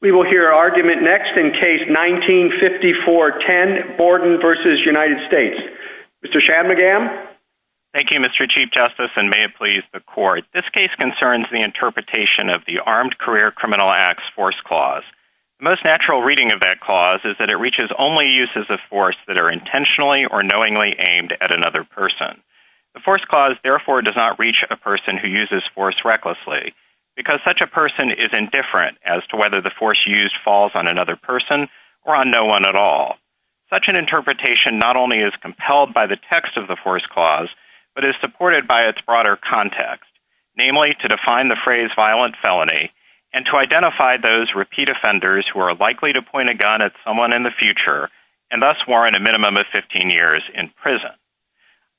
We will hear argument next in Case 1954-10, Borden v. United States. Mr. Shadmugam? Thank you, Mr. Chief Justice, and may it please the Court. This case concerns the interpretation of the Armed Career Criminal Acts Force Clause. The most natural reading of that clause is that it reaches only uses of force that are intentionally or knowingly aimed at another person. The Force Clause, therefore, does not reach a person who uses force recklessly, because such a person is indifferent as to whether the force used falls on another person or on no one at all. Such an interpretation not only is compelled by the text of the Force Clause, but is supported by its broader context. Namely, to define the phrase violent felony and to identify those repeat offenders who are likely to point a gun at someone in the future and thus warrant a minimum of 15 years in prison.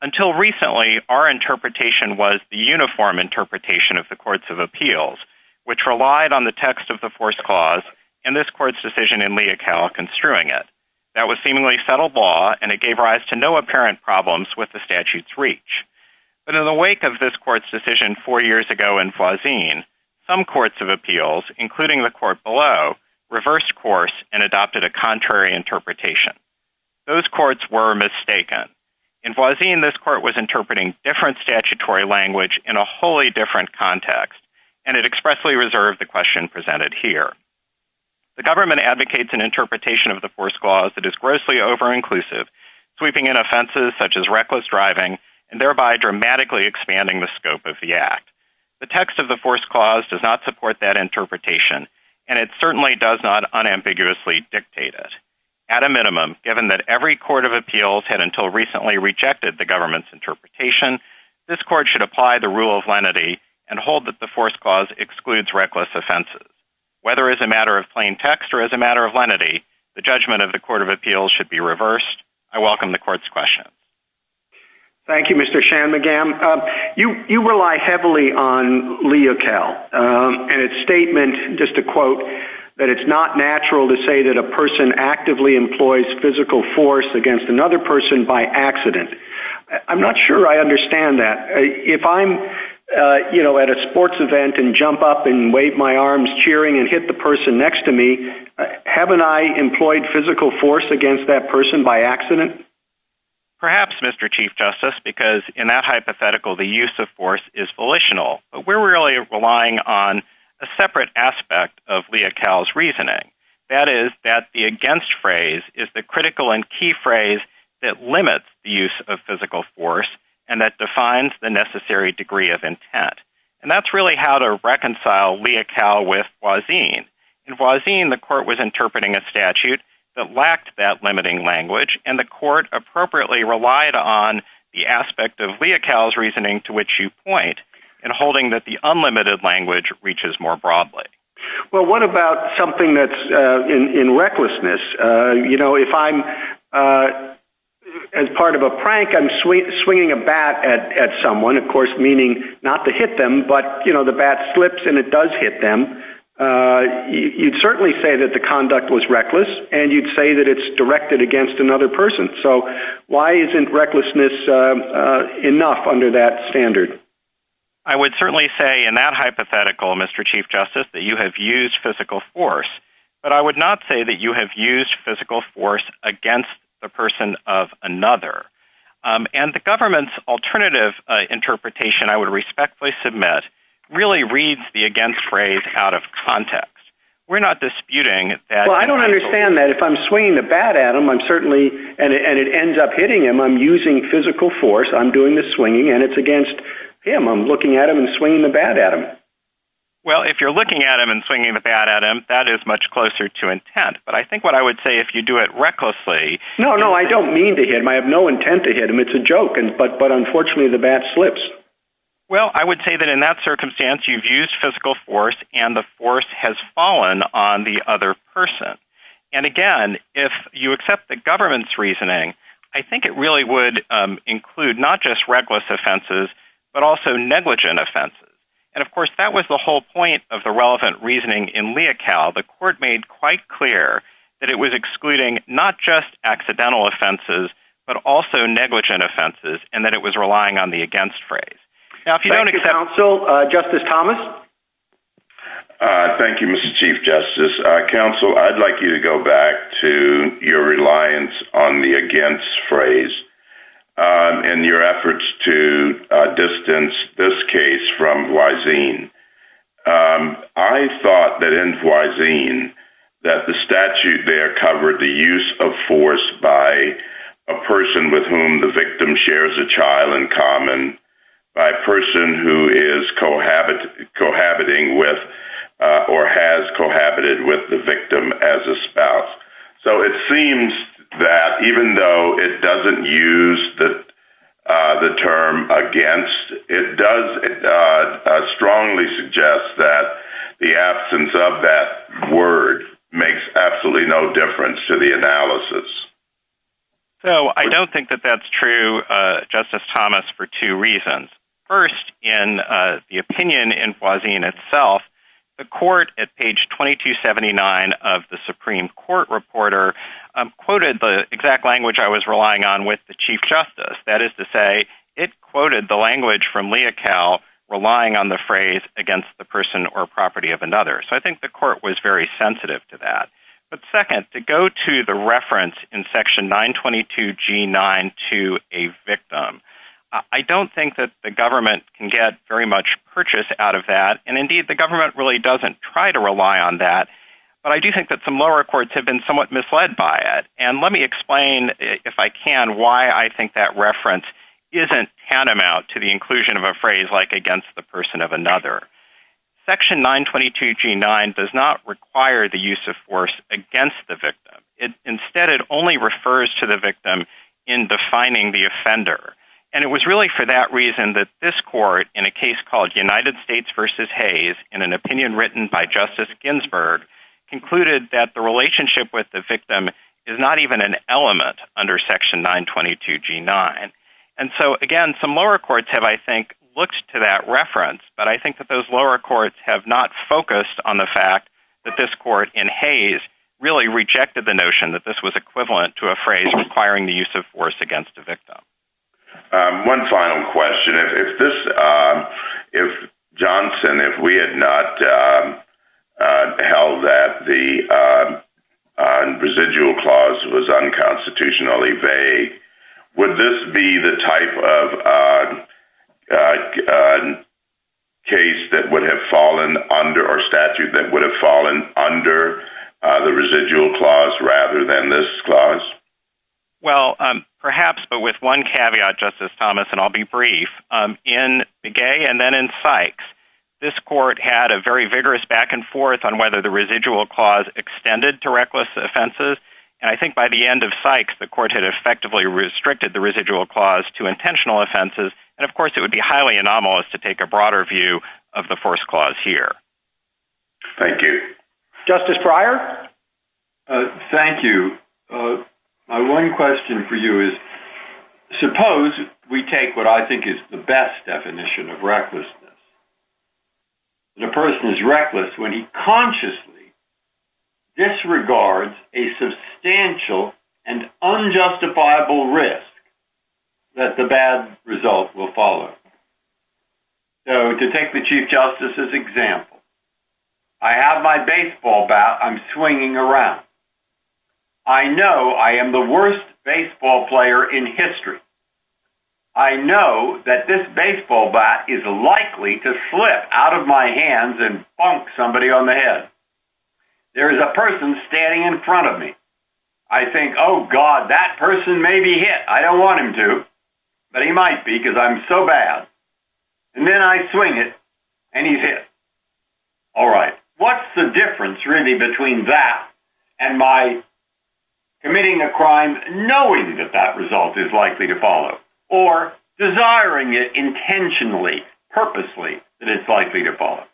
Until recently, our interpretation was the uniform interpretation of the Courts of Appeals, which relied on the text of the Force Clause and this Court's decision in Leocal construing it. That was seemingly settled law and it gave rise to no apparent problems with the statute's reach. But in the wake of this Court's decision four years ago in Voisin, some Courts of Appeals, including the Court below, reversed course and adopted a contrary interpretation. Those Courts were mistaken. In Voisin, this Court was interpreting different statutory language in a wholly different context and it expressly reserved the question presented here. The government advocates an interpretation of the Force Clause that is grossly over-inclusive, sweeping in offenses such as reckless driving and thereby dramatically expanding the scope of the act. The text of the Force Clause does not support that interpretation and it certainly does not unambiguously dictate it. At a minimum, given that every Court of Appeals had until recently rejected the government's interpretation, this Court should apply the rule of lenity and hold that the Force Clause excludes reckless offenses. Whether as a matter of plain text or as a matter of lenity, the judgment of the Court of Appeals should be reversed. I welcome the Court's question. Thank you, Mr. Shanmugam. You rely heavily on leotel and its statement, just to quote, that it's not natural to say that a person actively employs physical force against another person by accident. I'm not sure I understand that. If I'm, you know, at a sports event and jump up and wave my arms cheering and hit the person next to me, haven't I employed physical force against that person by accident? Perhaps, Mr. Chief Justice, because in that hypothetical, the use of force is volitional, but we're really relying on a separate aspect of leotel's reasoning. That is that the against phrase is the critical and key phrase that limits the use of physical force and that defines the necessary degree of intent. And that's really how to reconcile leotel with Boisin. In Boisin, the Court was interpreting a statute that lacked that limiting language and the Court appropriately relied on the aspect of leotel's reasoning to which you point and holding that the unlimited language reaches more broadly. Well, what about something that's in recklessness? You know, if I'm, as part of a prank, I'm swinging a bat at someone, of course, meaning not to hit them, but, you know, the bat slips and it does hit them. You'd certainly say that the conduct was reckless and you'd say that it's directed against another person. So why isn't recklessness enough under that standard? I would certainly say in that hypothetical, Mr. Chief Justice, that you have used physical force, but I would not say that you have used physical force against a person of another. And the government's alternative interpretation, I would respectfully submit, really reads the against phrase out of context. Well, I don't understand that. If I'm swinging the bat at him, I'm certainly, and it ends up hitting him, I'm using physical force. I'm doing the swinging and it's against him. I'm looking at him and swinging the bat at him. Well, if you're looking at him and swinging the bat at him, that is much closer to intent. But I think what I would say, if you do it recklessly. No, no, I don't mean to hit him. I have no intent to hit him. It's a joke. But unfortunately, the bat slips. Well, I would say that in that circumstance, you've used physical force and the force has fallen on the other person. And again, if you accept the government's reasoning, I think it really would include not just reckless offenses, but also negligent offenses. And of course, that was the whole point of the relevant reasoning in Leocal. The court made quite clear that it was excluding not just accidental offenses, but also negligent offenses, and that it was relying on the against phrase. Thank you, counsel. Justice Thomas? Thank you, Mr. Chief Justice. Counsel, I'd like you to go back to your reliance on the against phrase in your efforts to distance this case from Huazin. I thought that in Huazin that the statute there covered the use of force by a person with whom the victim shares a child in common, by a person who is cohabiting with or has cohabited with the victim as a spouse. So it seems that even though it doesn't use the term against, it does strongly suggest that the absence of that word makes absolutely no difference to the analysis. So I don't think that that's true, Justice Thomas, for two reasons. First, in the opinion in Huazin itself, the court at page 2279 of the Supreme Court Reporter quoted the exact language I was relying on with the Chief Justice. That is to say, it quoted the language from Leocal relying on the phrase against the person or property of another. So I think the court was very sensitive to that. But second, to go to the reference in section 922G9 to a victim, I don't think that the government can get very much purchase out of that. And indeed, the government really doesn't try to rely on that. But I do think that some lower courts have been somewhat misled by it. And let me explain, if I can, why I think that reference isn't tantamount to the inclusion of a phrase like against the person of another. Section 922G9 does not require the use of force against the victim. Instead, it only refers to the victim in defining the offender. And it was really for that reason that this court, in a case called United States v. Hayes, in an opinion written by Justice Ginsburg, concluded that the relationship with the victim is not even an element under section 922G9. And so again, some lower courts have, I think, looked to that reference. But I think that those lower courts have not focused on the fact that this court in Hayes really rejected the notion that this was equivalent to a phrase requiring the use of force against the victim. One final question. Johnson, if we had not held that the residual clause was unconstitutionally vague, would this be the type of case that would have fallen under or statute that would have fallen under the residual clause rather than this clause? Well, perhaps, but with one caveat, Justice Thomas, and I'll be brief. In Begay and then in Sykes, this court had a very vigorous back and forth on whether the residual clause extended to reckless offenses. And I think by the end of Sykes, the court had effectively restricted the residual clause to intentional offenses. And of course, it would be highly anomalous to take a broader view of the first clause here. Thank you. Justice Breyer? Thank you. My one question for you is, suppose we take what I think is the best definition of recklessness. The person is reckless when he consciously disregards a substantial and unjustifiable risk that the bad result will follow. So to take the Chief Justice's example, I have my baseball bat. I'm swinging around. I know I am the worst baseball player in history. I know that this baseball bat is likely to slip out of my hands and bonk somebody on the head. There is a person standing in front of me. I think, oh God, that person may be hit. I don't want him to, but he might be because I'm so bad. And then I swing it and he's hit. All right. What's the difference really between that and my committing a crime knowing that that result is likely to follow or desiring it intentionally, purposely, that it's likely to follow?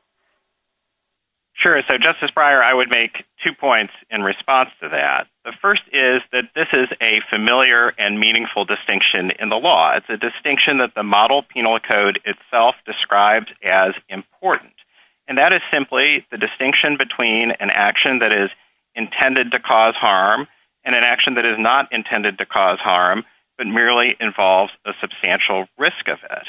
Sure. So Justice Breyer, I would make two points in response to that. The first is that this is a familiar and meaningful distinction in the law. It's a distinction that the model penal code itself describes as important. And that is simply the distinction between an action that is intended to cause harm and an action that is not intended to cause harm, but merely involves a substantial risk of it.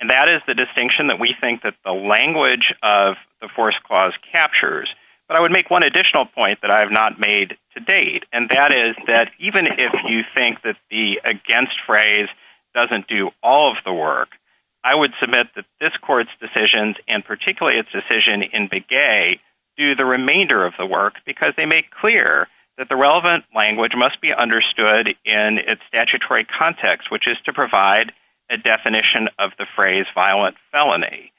And that is the distinction that we think that the language of the force clause captures. But I would make one additional point that I have not made to date. And that is that even if you think that the against phrase doesn't do all of the work, I would submit that this court's decisions and particularly its decision in Begay do the remainder of the work because they make clear that the relevant language must be understood in its statutory context, which is to provide a definition of the phrase violent felony.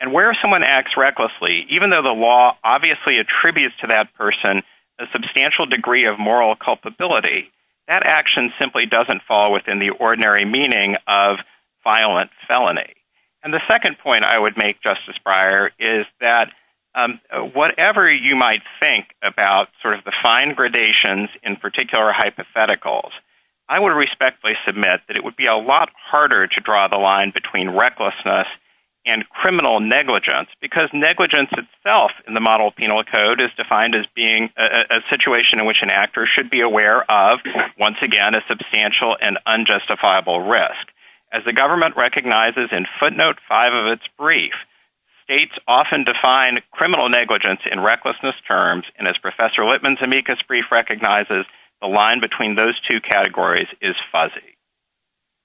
And where someone acts recklessly, even though the law obviously attributes to that person a substantial degree of moral culpability, that action simply doesn't fall within the ordinary meaning of violent felony. And the second point I would make, Justice Breyer, is that whatever you might think about sort of the fine gradations in particular hypotheticals, I would respectfully submit that it would be a lot harder to draw the line between recklessness and criminal negligence because negligence itself in the model of penal code is defined as being a situation in which an actor should be aware of, once again, a substantial and unjustifiable risk. As the government recognizes in footnote five of its brief, states often define criminal negligence in recklessness terms. And as Professor Litman's amicus brief recognizes, the line between those two categories is fuzzy.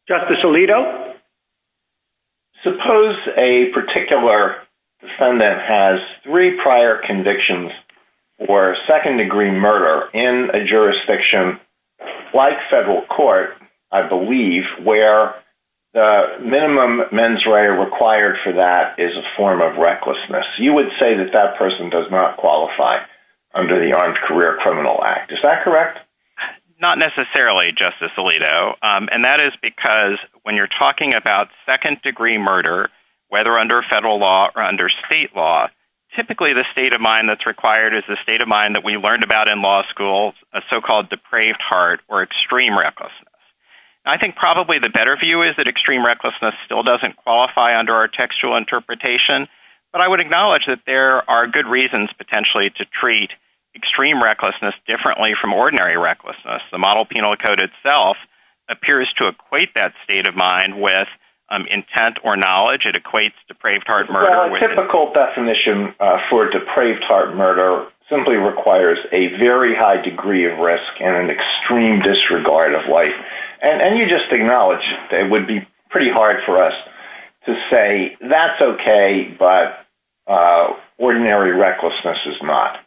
Justice Alito? Suppose a particular defendant has three prior convictions for a second degree murder in a jurisdiction like federal court, I believe, where the minimum mens rea required for that is a form of recklessness. You would say that that person does not qualify under the Armed Career Criminal Act. Is that correct? Not necessarily, Justice Alito. And that is because when you're talking about second degree murder, whether under federal law or under state law, typically the state of mind that's required is the state of mind that we learned about in law school, a so-called depraved heart or extreme recklessness. I think probably the better view is that extreme recklessness still doesn't qualify under our textual interpretation. But I would acknowledge that there are good reasons potentially to treat extreme recklessness differently from ordinary recklessness. The model penal code itself appears to equate that state of mind with intent or knowledge. It equates depraved heart murder with… Well, a typical definition for depraved heart murder simply requires a very high degree of risk and an extreme disregard of life. And you just acknowledge that it would be pretty hard for us to say that's OK, but ordinary recklessness is not.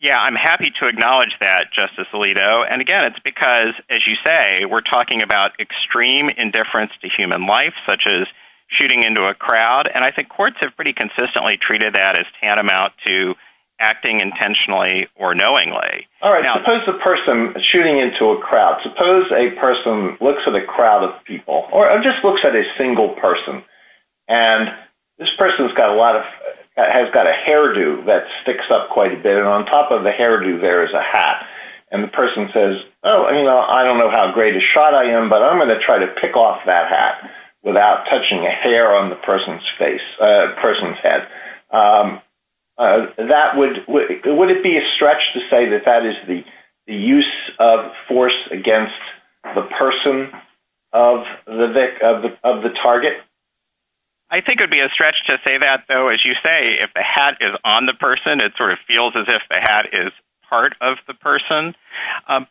Yeah, I'm happy to acknowledge that, Justice Alito. And again, it's because, as you say, we're talking about extreme indifference to human life, such as shooting into a crowd. And I think courts have pretty consistently treated that as tantamount to acting intentionally or knowingly. All right, suppose the person shooting into a crowd, suppose a person looks at a crowd of people or just looks at a single person. And this person has got a lot of…has got a hairdo that sticks up quite a bit. And on top of the hairdo, there is a hat. And the person says, oh, you know, I don't know how great a shot I am, but I'm going to try to pick off that hat without touching a hair on the person's face, person's head. That would…would it be a stretch to say that that is the use of force against the person of the target? I think it would be a stretch to say that, though. As you say, if the hat is on the person, it sort of feels as if the hat is part of the person.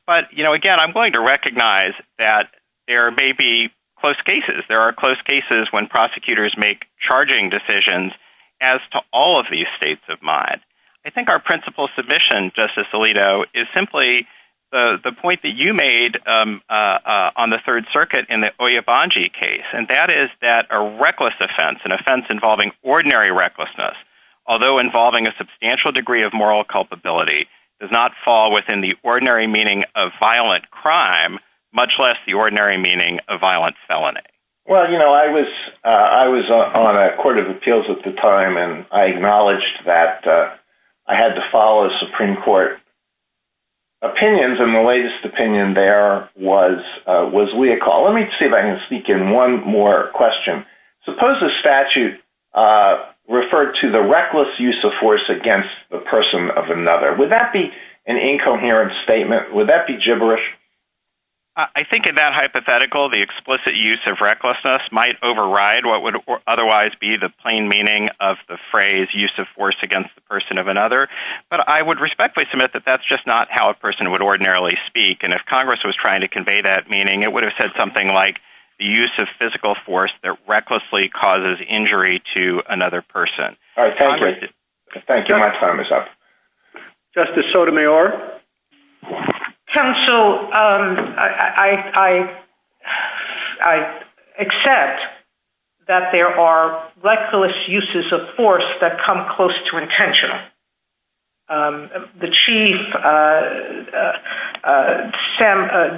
But, you know, again, I'm going to recognize that there may be close cases. There are close cases when prosecutors make charging decisions as to all of these states of mind. I think our principal submission, Justice Alito, is simply the point that you made on the Third Circuit in the Oyebanji case, and that is that a reckless offense, an offense involving ordinary recklessness, although involving a substantial degree of moral culpability, does not fall within the ordinary meaning of violent crime, much less the ordinary meaning of violent felony. Well, you know, I was…I was on a court of appeals at the time, and I acknowledged that I had to follow a Supreme Court opinions, and the latest opinion there was…was legal. Let me see if I can speak in one more question. Suppose the statute referred to the reckless use of force against the person of another. Would that be an incoherent statement? Would that be gibberish? I think in that hypothetical, the explicit use of recklessness might override what would otherwise be the plain meaning of the phrase use of force against the person of another. But I would respectfully submit that that's just not how a person would ordinarily speak, and if Congress was trying to convey that meaning, it would have said something like the use of physical force that recklessly causes injury to another person. All right. Thank you. Thank you much, Thomas. Justice Sotomayor? Counsel, I…I…I accept that there are reckless uses of force that come close to intentional. The Chief,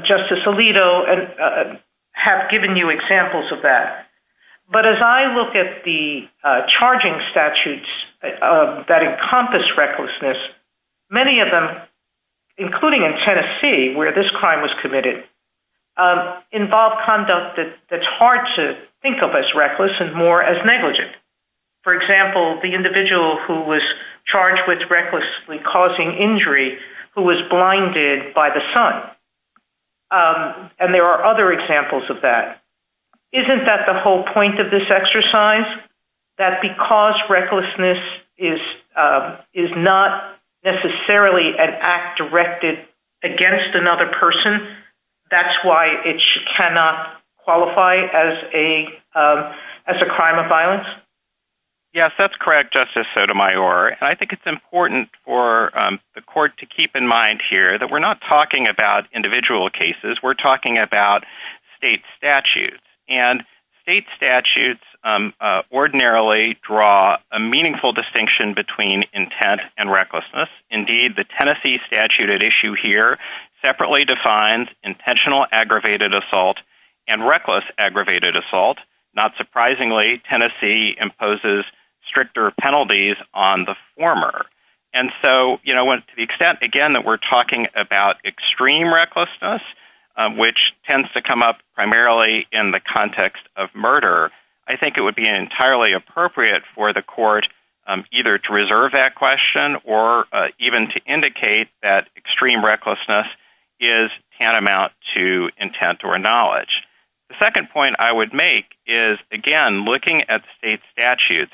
Justice Alito, have given you examples of that. But as I look at the charging statutes that encompass recklessness, many of them, including in Tennessee, where this crime was committed, involve conduct that's hard to think of as reckless and more as negligent. For example, the individual who was charged with recklessly causing injury who was blinded by the sun. And there are other examples of that. Isn't that the whole point of this exercise? That because recklessness is not necessarily an act directed against another person, that's why it cannot qualify as a…as a crime of violence? Yes, that's correct, Justice Sotomayor. And I think it's important for the court to keep in mind here that we're not talking about individual cases. We're talking about state statutes. And state statutes ordinarily draw a meaningful distinction between intent and recklessness. Indeed, the Tennessee statute at issue here separately defines intentional aggravated assault and reckless aggravated assault. Not surprisingly, Tennessee imposes stricter penalties on the former. And so, you know, to the extent, again, that we're talking about extreme recklessness, which tends to come up primarily in the context of murder, I think it would be entirely appropriate for the court either to reserve that question or even to indicate that extreme recklessness is tantamount to intent or knowledge. The second point I would make is, again, looking at state statutes,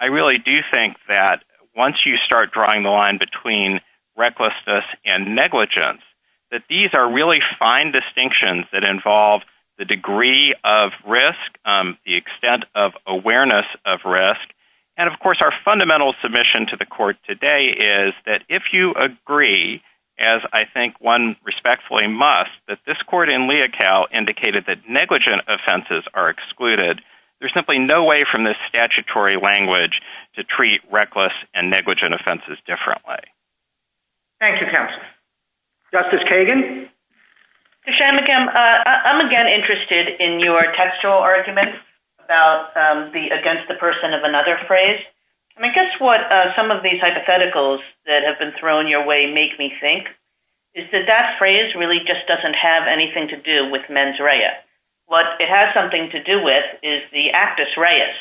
I really do think that once you start drawing the line between recklessness and negligence, that these are really fine distinctions that involve the degree of risk, the extent of awareness of risk. And, of course, our fundamental submission to the court today is that if you agree, as I think one respectfully must, that this court in Leocal indicated that negligent offenses are excluded, there's simply no way from this statutory language to treat reckless and negligent offenses differently. Thank you, counsel. Justice Kagan? Mr. Shammekham, I'm again interested in your textual argument about the against the person of another phrase. And I guess what some of these hypotheticals that have been thrown your way make me think is that that phrase really just doesn't have anything to do with mens rea. What it has something to do with is the actus reus.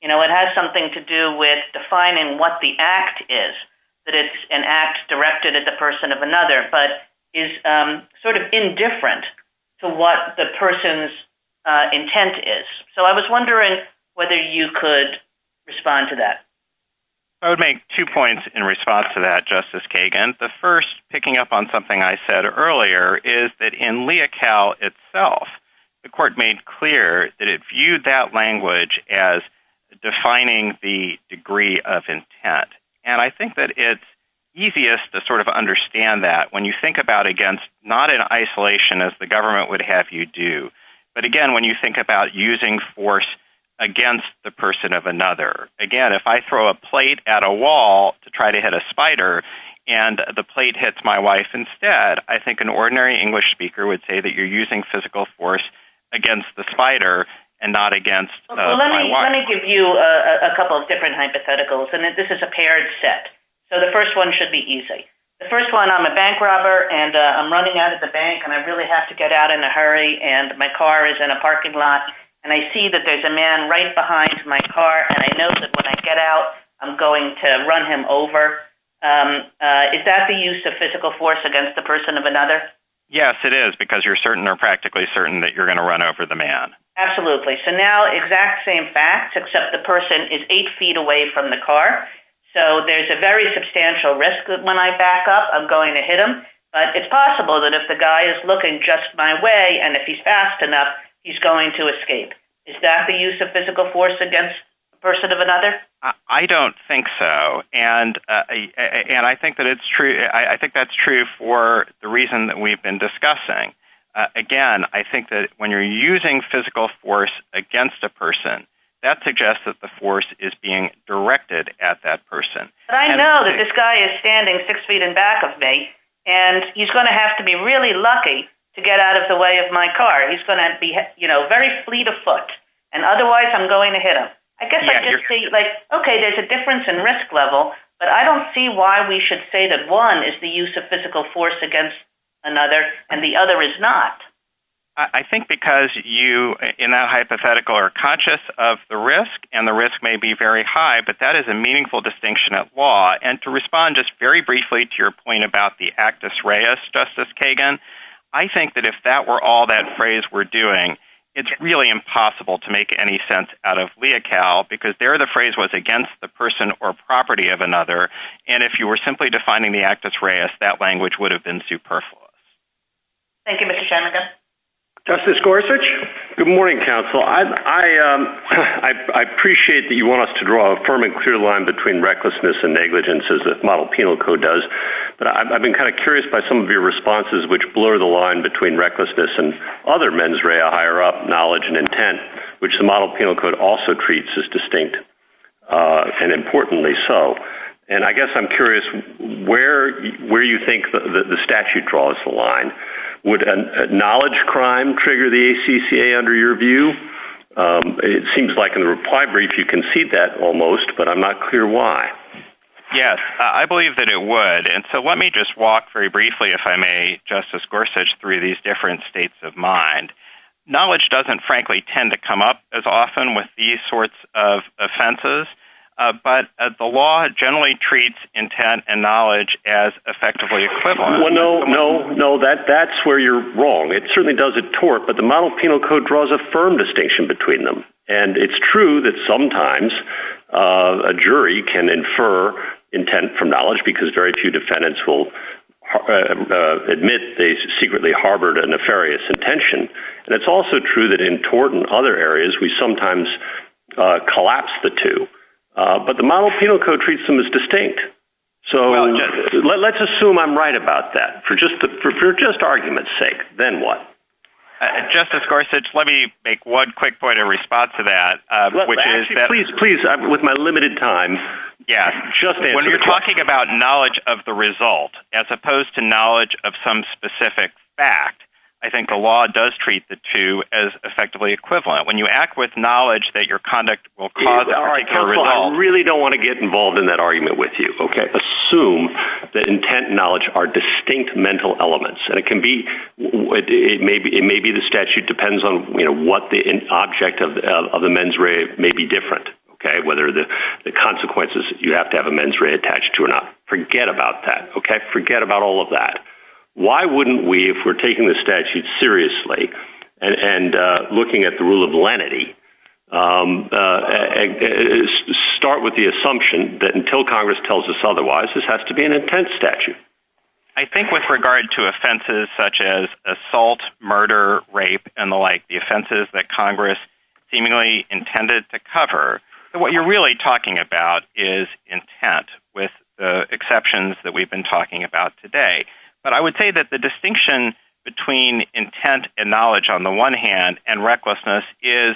You know, it has something to do with defining what the act is, that it's an act directed at the person of another, but is sort of indifferent to what the person's intent is. So I was wondering whether you could respond to that. I would make two points in response to that, Justice Kagan. The first, picking up on something I said earlier, is that in Leocal itself, the court made clear that it viewed that language as defining the degree of intent. And I think that it's easiest to sort of understand that when you think about against, not in isolation as the government would have you do, but again, when you think about using force against the person of another. Again, if I throw a plate at a wall to try to hit a spider and the plate hits my wife instead, I think an ordinary English speaker would say that you're using physical force against the spider and not against my wife. Let me give you a couple of different hypotheticals, and this is a paired set. So the first one should be easy. The first one, I'm a bank robber and I'm running out of the bank and I really have to get out in a hurry and my car is in a parking lot and I see that there's a man right behind my car and I know that when I get out I'm going to run him over. Is that the use of physical force against the person of another? Yes, it is, because you're certain or practically certain that you're going to run over the man. Absolutely. So now exact same facts, except the person is eight feet away from the car. So there's a very substantial risk that when I back up, I'm going to hit him. But it's possible that if the guy is looking just my way and if he's fast enough, he's going to escape. Is that the use of physical force against the person of another? I don't think so, and I think that's true for the reason that we've been discussing. Again, I think that when you're using physical force against a person, that suggests that the force is being directed at that person. But I know that this guy is standing six feet in back of me and he's going to have to be really lucky to get out of the way of my car. He's going to be very fleet of foot, and otherwise I'm going to hit him. I guess there's a difference in risk level, but I don't see why we should say that one is the use of physical force against another and the other is not. I think because you, in that hypothetical, are conscious of the risk, and the risk may be very high, but that is a meaningful distinction of law. And to respond just very briefly to your point about the actus reus, Justice Kagan, I think that if that were all that phrase we're doing, it's really impossible to make any sense out of Leocal, because there the phrase was against the person or property of another, and if you were simply defining the actus reus, that language would have been superfluous. Thank you, Mr. Jennings. Justice Gorsuch? Good morning, counsel. I appreciate that you want us to draw a firm and clear line between recklessness and negligence, as the model penal code does, but I've been kind of curious by some of your responses which blur the line between recklessness and other mens rea, higher up, knowledge and intent, which the model penal code also treats as distinct and importantly so. And I guess I'm curious where you think the statute draws the line. Would a knowledge crime trigger the ACCA under your view? It seems like in the reply brief you can see that almost, but I'm not clear why. Yes, I believe that it would. And so let me just walk very briefly, if I may, Justice Gorsuch, through these different states of mind. Knowledge doesn't, frankly, tend to come up as often with these sorts of offenses, but the law generally treats intent and knowledge as effectively equivalent. Well, no, no, no, that's where you're wrong. It certainly does at tort, but the model penal code draws a firm distinction between them, and it's true that sometimes a jury can infer intent from knowledge because very few defendants will admit they secretly harbored a nefarious intention. And it's also true that in tort and other areas we sometimes collapse the two. But the model penal code treats them as distinct. So let's assume I'm right about that for just argument's sake, then what? Justice Gorsuch, let me make one quick point in response to that. Please, please, with my limited time. When you're talking about knowledge of the result as opposed to knowledge of some specific fact, I think the law does treat the two as effectively equivalent. When you act with knowledge that your conduct will cause a particular result. I really don't want to get involved in that argument with you. Assume that intent and knowledge are distinct mental elements, and it may be the statute depends on what the object of the mens rea may be different, whether the consequences you have to have a mens rea attached to or not. Forget about that. Forget about all of that. Why wouldn't we, if we're taking the statute seriously and looking at the rule of lenity, start with the assumption that until Congress tells us otherwise, this has to be an intense statute? I think with regard to offenses such as assault, murder, rape, and the like, the offenses that Congress seemingly intended to cover, what you're really talking about is intent with the exceptions that we've been talking about today. But I would say that the distinction between intent and knowledge on the one hand and recklessness is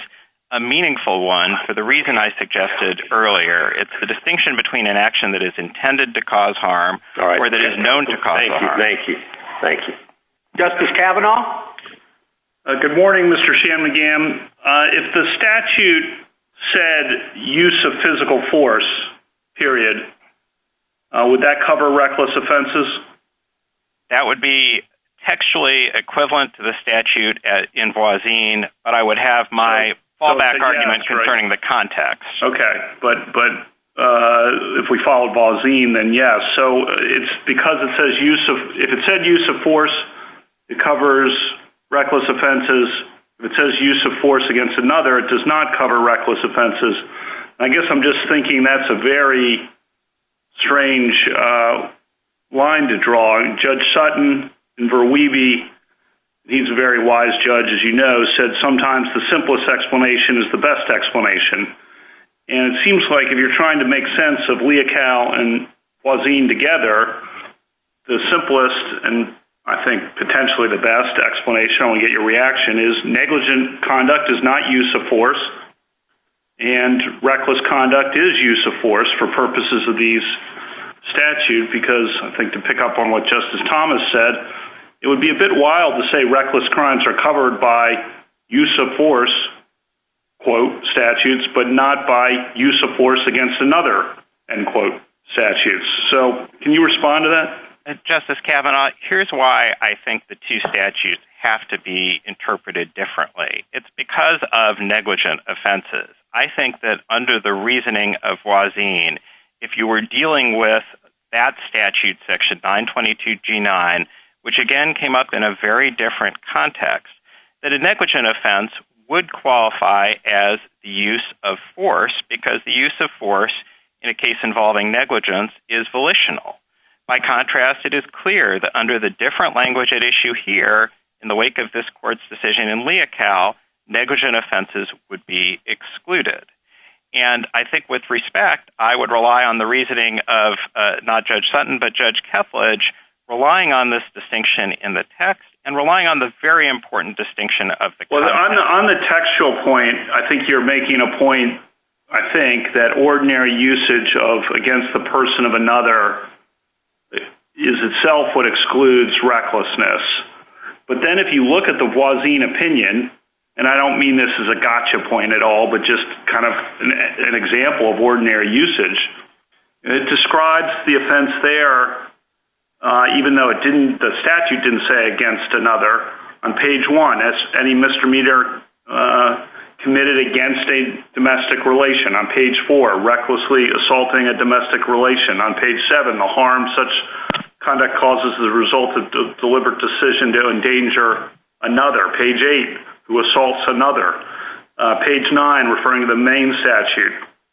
a meaningful one for the reason I suggested earlier. It's the distinction between an action that is intended to cause harm or that is known to cause harm. Thank you. Thank you. Justice Kavanaugh? Good morning, Mr. Shanmugam. If the statute said use of physical force, period, would that cover reckless offenses? That would be textually equivalent to the statute in Boisean, but I would have my fallback arguments concerning the context. Okay, but if we follow Boisean, then yes. So it's because it says use of force, it covers reckless offenses. It says use of force against another, it does not cover reckless offenses. I guess I'm just thinking that's a very strange line to draw. Judge Sutton and Verweeve, he's a very wise judge, as you know, has said sometimes the simplest explanation is the best explanation. And it seems like if you're trying to make sense of Leocal and Boisean together, the simplest and I think potentially the best explanation, I'll get your reaction, is negligent conduct is not use of force and reckless conduct is use of force for purposes of these statutes because I think to pick up on what Justice Thomas said, it would be a bit wild to say reckless crimes are covered by use of force, quote, statutes, but not by use of force against another, end quote, statute. So can you respond to that? Justice Kavanaugh, here's why I think the two statutes have to be interpreted differently. It's because of negligent offenses. I think that under the reasoning of Boisean, if you were dealing with that statute, section 922G9, which again came up in a very different context, that a negligent offense would qualify as the use of force because the use of force in a case involving negligence is volitional. By contrast, it is clear that under the different language at issue here, in the wake of this court's decision in Leocal, negligent offenses would be excluded. And I think with respect, I would rely on the reasoning of not Judge Sutton, but Judge Kepledge relying on this distinction in the text and relying on the very important distinction of the case. On the textual point, I think you're making a point, I think, that ordinary usage against the person of another is itself what excludes recklessness. But then if you look at the Boisean opinion, and I don't mean this as a gotcha point at all, but just kind of an example of ordinary usage, it describes the offense there, even though the statute didn't say against another. On page 1, any misdemeanor committed against a domestic relation. On page 4, recklessly assaulting a domestic relation. On page 7, the harm such conduct causes as a result of deliberate decision to endanger another. Page 8, who assaults another. Page 9, referring to the main statute,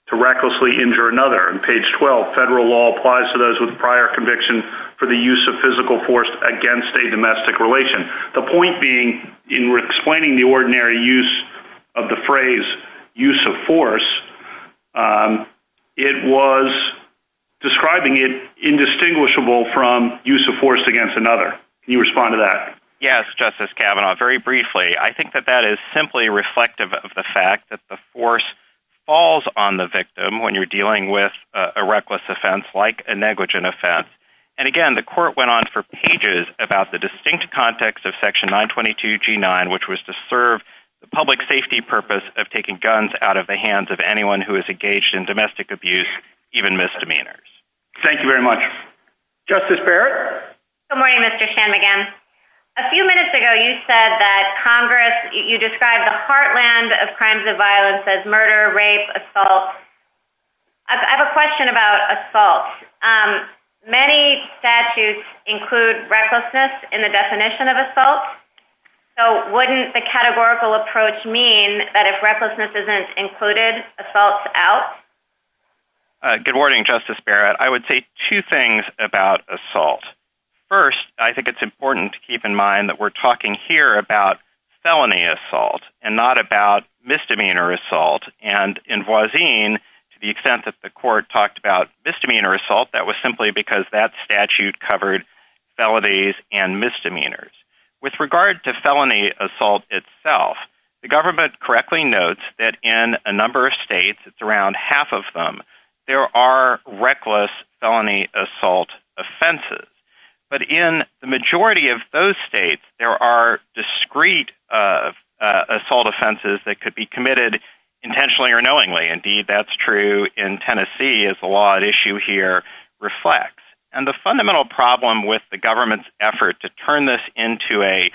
to recklessly injure another. And page 12, federal law applies to those with prior conviction for the use of physical force against a domestic relation. The point being, in explaining the ordinary use of the phrase, use of force, it was describing it indistinguishable from use of force against another. Can you respond to that? Yes, Justice Kavanaugh, very briefly. I think that that is simply reflective of the fact that the force falls on the victim when you're dealing with a reckless offense like a negligent offense. And again, the court went on for pages about the distinct context of Section 922G9, which was to serve the public safety purpose of taking guns out of the hands of anyone who is engaged in domestic abuse, even misdemeanors. Thank you very much. Justice Barrett? Good morning, Mr. Shanmugam. A few minutes ago you said that Congress, you described the heartland of crimes of violence as murder, rape, assault. I have a question about assault. Many statutes include recklessness in the definition of assault. So wouldn't the categorical approach mean that if recklessness isn't included, assault's out? Good morning, Justice Barrett. I would say two things about assault. First, I think it's important to keep in mind that we're talking here about felony assault and not about misdemeanor assault. And in Voisin, to the extent that the court talked about misdemeanor assault, that was simply because that statute covered felonies and misdemeanors. With regard to felony assault itself, the government correctly notes that in a number of states, it's around half of them, there are reckless felony assault offenses. But in the majority of those states, there are discreet assault offenses that could be committed intentionally or knowingly. Indeed, that's true in Tennessee, as the law at issue here reflects. And the fundamental problem with the government's effort to turn this into a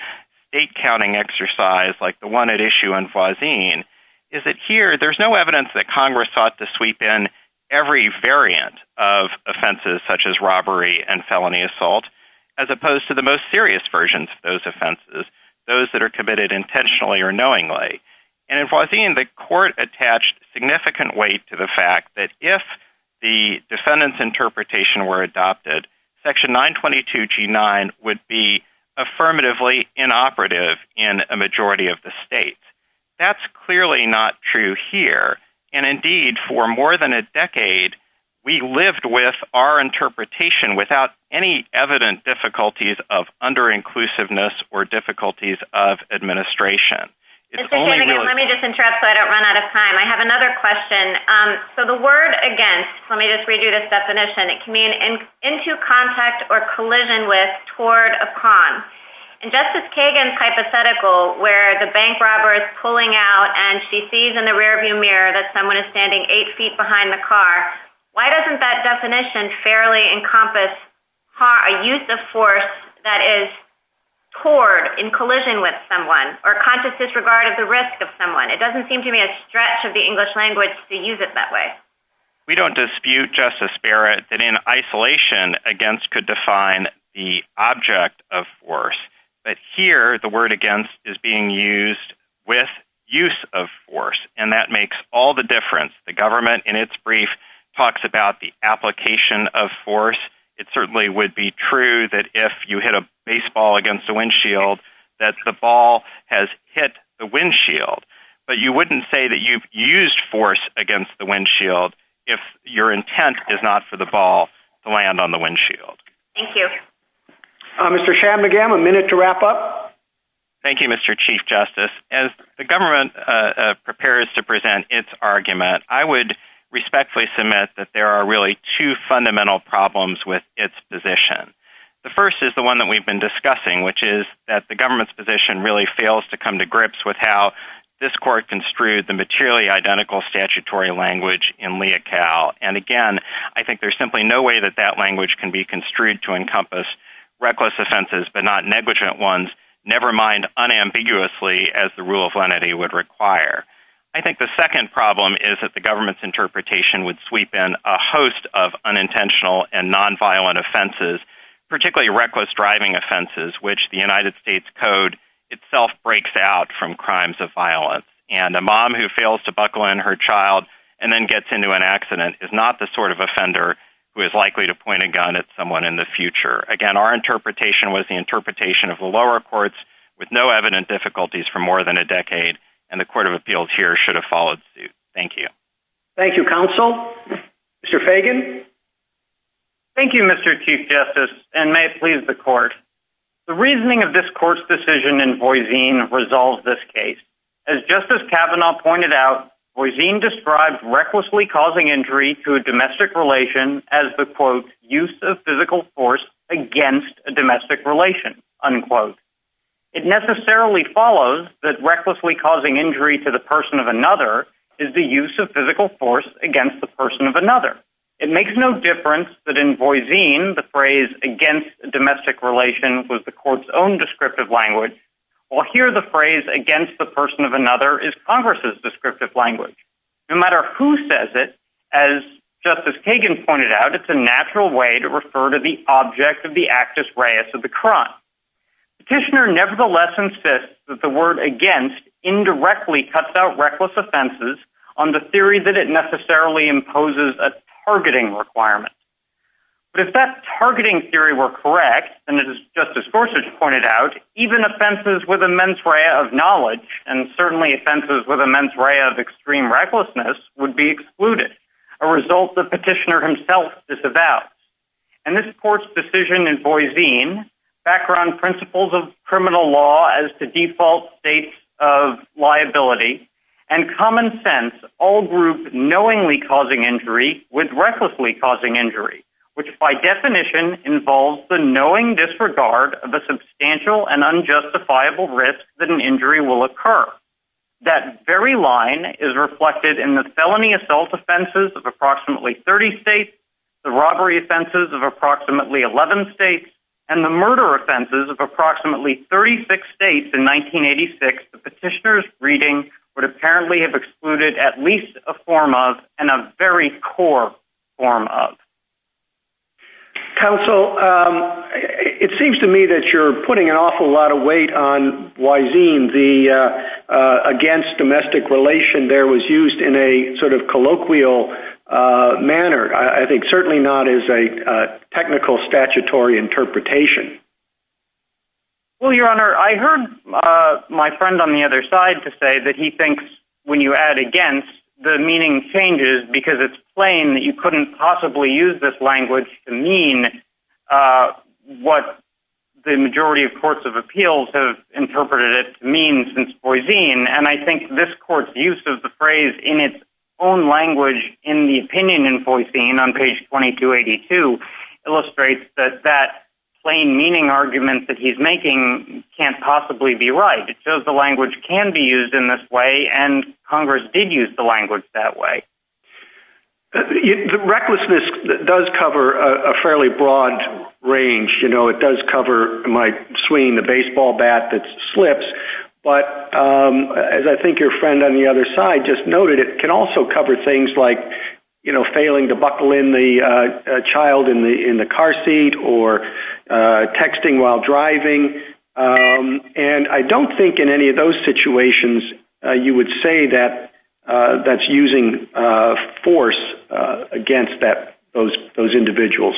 state-counting exercise, like the one at issue in Voisin, is that here, there's no evidence that Congress sought to sweep in every variant of offenses, such as robbery and felony assault, as opposed to the most serious versions of those offenses, those that are committed intentionally or knowingly. And in Voisin, the court attached significant weight to the fact that if the defendant's interpretation were adopted, Section 922G9 would be affirmatively inoperative in a majority of the states. That's clearly not true here. And indeed, for more than a decade, we lived with our interpretation without any evident difficulties of under-inclusiveness or difficulties of administration. Let me just interrupt so I don't run out of time. I have another question. So the word against, let me just read you this definition, it can mean into contact or collision with, toward, upon. In Justice Kagan's hypothetical, where the bank robber is pulling out and she sees in the rearview mirror that someone is standing eight feet behind the car, why doesn't that definition fairly encompass a use of force that is toward, in collision with someone, or conscious disregard of the risk of someone? It doesn't seem to me a stretch of the English language to use it that way. We don't dispute, Justice Barrett, that in isolation, against could define the object of force. But here, the word against is being used with use of force. And that makes all the difference. The government, in its brief, talks about the application of force. It certainly would be true that if you hit a baseball against a windshield, that the ball has hit the windshield. But you wouldn't say that you've used force against the windshield if your intent is not for the ball to land on the windshield. Thank you. Mr. Schamdegam, a minute to wrap up. Thank you, Mr. Chief Justice. As the government prepares to present its argument, I would respectfully submit that there are really two fundamental problems with its position. The first is the one that we've been discussing, which is that the government's position really fails to come to grips with how this court construed the materially identical statutory language in Lea Cal. And, again, I think there's simply no way that that language can be construed to encompass reckless offenses but not negligent ones, never mind unambiguously as the rule of lenity would require. I think the second problem is that the government's interpretation would sweep in a host of unintentional and nonviolent offenses, particularly reckless driving offenses, which the United States Code itself breaks out from crimes of violence. And a mom who fails to buckle in her child and then gets into an accident is not the sort of offender who is likely to point a gun at someone in the future. Again, our interpretation was the interpretation of the lower courts with no evident difficulties for more than a decade, and the Court of Appeals here should have followed suit. Thank you. Thank you, Counsel. Mr. Fagan. Thank you, Mr. Chief Justice, and may it please the Court. The reasoning of this Court's decision in Boise resolves this case. As Justice Kavanaugh pointed out, Boise describes recklessly causing injury to a domestic relation as the, quote, use of physical force against a domestic relation, unquote. It necessarily follows that recklessly causing injury to the person of another is the use of physical force against the person of another. It makes no difference that in Boise the phrase against domestic relations was the Court's own descriptive language. Well, here the phrase against the person of another is Congress's descriptive language. No matter who says it, as Justice Kagan pointed out, it's a natural way to refer to the object of the actus reus of the crime. Petitioner nevertheless insists that the word against indirectly cuts out reckless offenses on the theory that it necessarily imposes a targeting requirement. But if that targeting theory were correct, and as Justice Gorsuch pointed out, even offenses with immense ray of knowledge and certainly offenses with immense ray of extreme recklessness would be excluded, a result the petitioner himself disavows. And this Court's decision in Boise, background principles of criminal law as to default states of liability, and common sense all group knowingly causing injury with recklessly causing injury, which by definition involves the knowing disregard of a substantial and unjustifiable risk that an injury will occur. That very line is reflected in the felony assault offenses of approximately 30 states, the robbery offenses of approximately 11 states, and the murder offenses of approximately 36 states in 1986. The petitioner's reading would apparently have excluded at least a form of and a very core form of. Counsel, it seems to me that you're putting an awful lot of weight on Wysine, against domestic relation there was used in a sort of colloquial manner. I think certainly not as a technical statutory interpretation. Well, Your Honor, I heard my friend on the other side to say that he thinks when you add against, the meaning changes because it's plain that you couldn't possibly use this language to mean what the majority of courts of appeals have seen since Wysine and I think this court's use of the phrase in its own language in the opinion in Wysine on page 2282 illustrates that that plain meaning argument that he's making can't possibly be right. It shows the language can be used in this way and Congress did use the language that way. Recklessness does cover a fairly broad range. You know, it does cover like swinging the baseball bat that slips. But as I think your friend on the other side just noted, it can also cover things like, you know, failing to buckle in the child in the car seat or texting while driving. And I don't think in any of those situations you would say that that's using force against those individuals.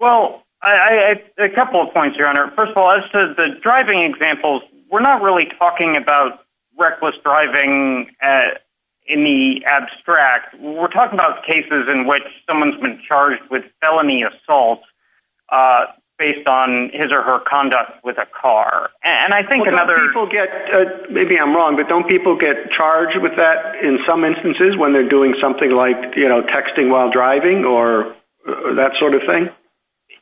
Well, a couple of points, Your Honor. First of all, as to the driving examples, we're not really talking about reckless driving in the abstract. We're talking about cases in which someone's been charged with felony assault based on his or her conduct with a car. And I think another... Maybe I'm wrong, but don't people get charged with that in some instances when they're doing something like, you know, texting while driving or that sort of thing?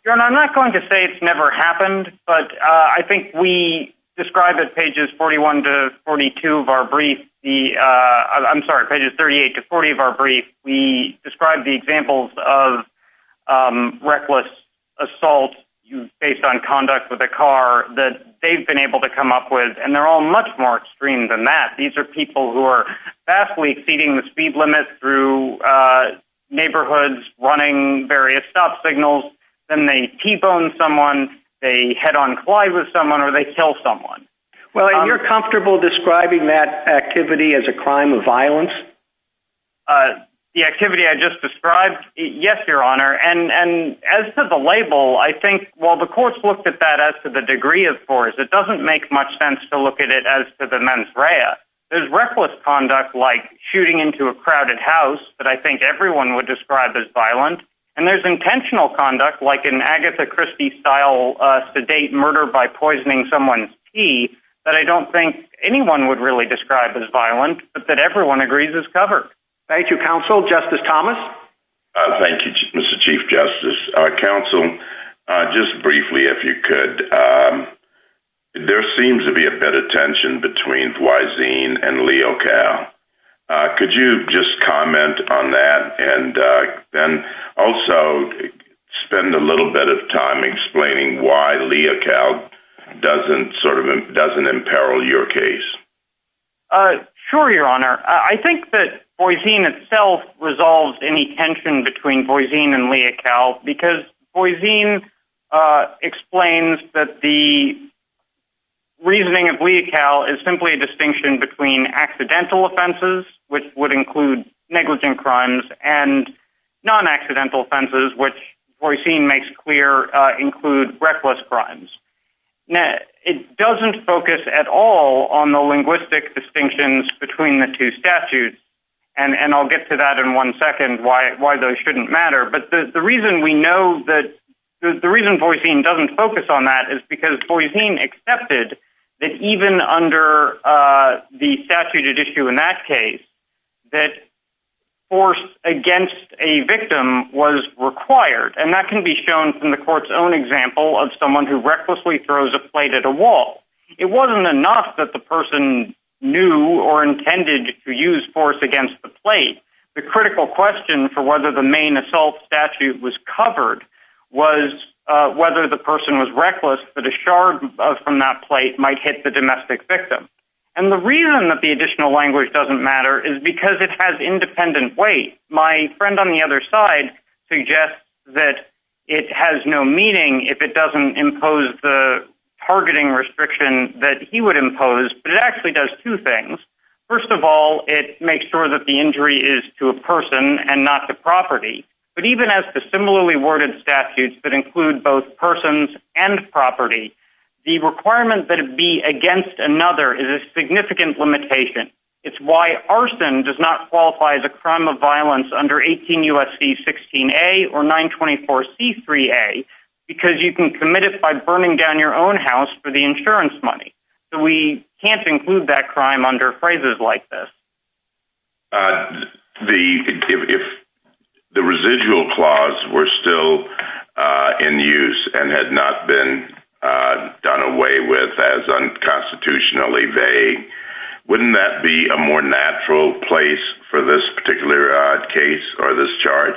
Your Honor, I'm not going to say it's never happened. But I think we describe it pages 41 to 42 of our brief. I'm sorry, pages 38 to 40 of our brief. We describe the examples of reckless assault based on conduct with a car that they've been able to come up with. And they're all much more extreme than that. These are people who are vastly exceeding the speed limit through neighborhoods, running various stop signals. Then they T-bone someone, they head-on collide with someone, or they kill someone. Well, are you comfortable describing that activity as a crime of violence? The activity I just described? Yes, Your Honor. And as for the label, I think while the courts looked at that as to the degree of force, it doesn't make much sense to look at it as to the mens rea. There's reckless conduct like shooting into a crowded house that I think everyone would describe as violent. And there's intentional conduct like an Agatha Christie-style sedate murder by poisoning someone's tea that I don't think anyone would really describe as violent, but that everyone agrees is covered. Thank you, counsel. Justice Thomas? Thank you, Mr. Chief Justice. Counsel, just briefly, if you could, there seems to be a bit of tension between Wyzine and Leo Cal. Could you just comment on that and then also spend a little bit of time explaining why Leo Cal doesn't imperil your case? Sure, Your Honor. I think that Wyzine itself resolves any tension between Wyzine and Leo Cal, because Wyzine explains that the reasoning of Leo Cal is simply a distinction between accidental offenses, which would include negligent crimes, and non-accidental offenses, which Wyzine makes clear include reckless crimes. Now, it doesn't focus at all on the linguistic distinctions between the two statutes, and I'll get to that in one second, why those shouldn't matter. But the reason we know that – the reason Wyzine doesn't focus on that is because Wyzine accepted that even under the statute at issue in that case, that force against a victim was required. And that can be shown from the court's own example of someone who recklessly throws a plate at a wall. It wasn't enough that the person knew or intended to use force against the plate. The critical question for whether the main assault statute was covered was whether the person was reckless that a shard from that plate might hit the domestic victim. And the reason that the additional language doesn't matter is because it has independent weight. My friend on the other side suggests that it has no meaning if it doesn't impose the targeting restriction that he would impose, but it actually does two things. First of all, it makes sure that the injury is to a person and not to property. But even as the similarly worded statutes that include both persons and property, the requirement that it be against another is a significant limitation. It's why arson does not qualify as a crime of violence under 18 U.S.C. 16A or 924C3A, because you can commit it by burning down your own house for the insurance money. So we can't include that crime under phrases like this. If the residual clause were still in use and had not been done away with as unconstitutionally, wouldn't that be a more natural place for this particular case or this charge?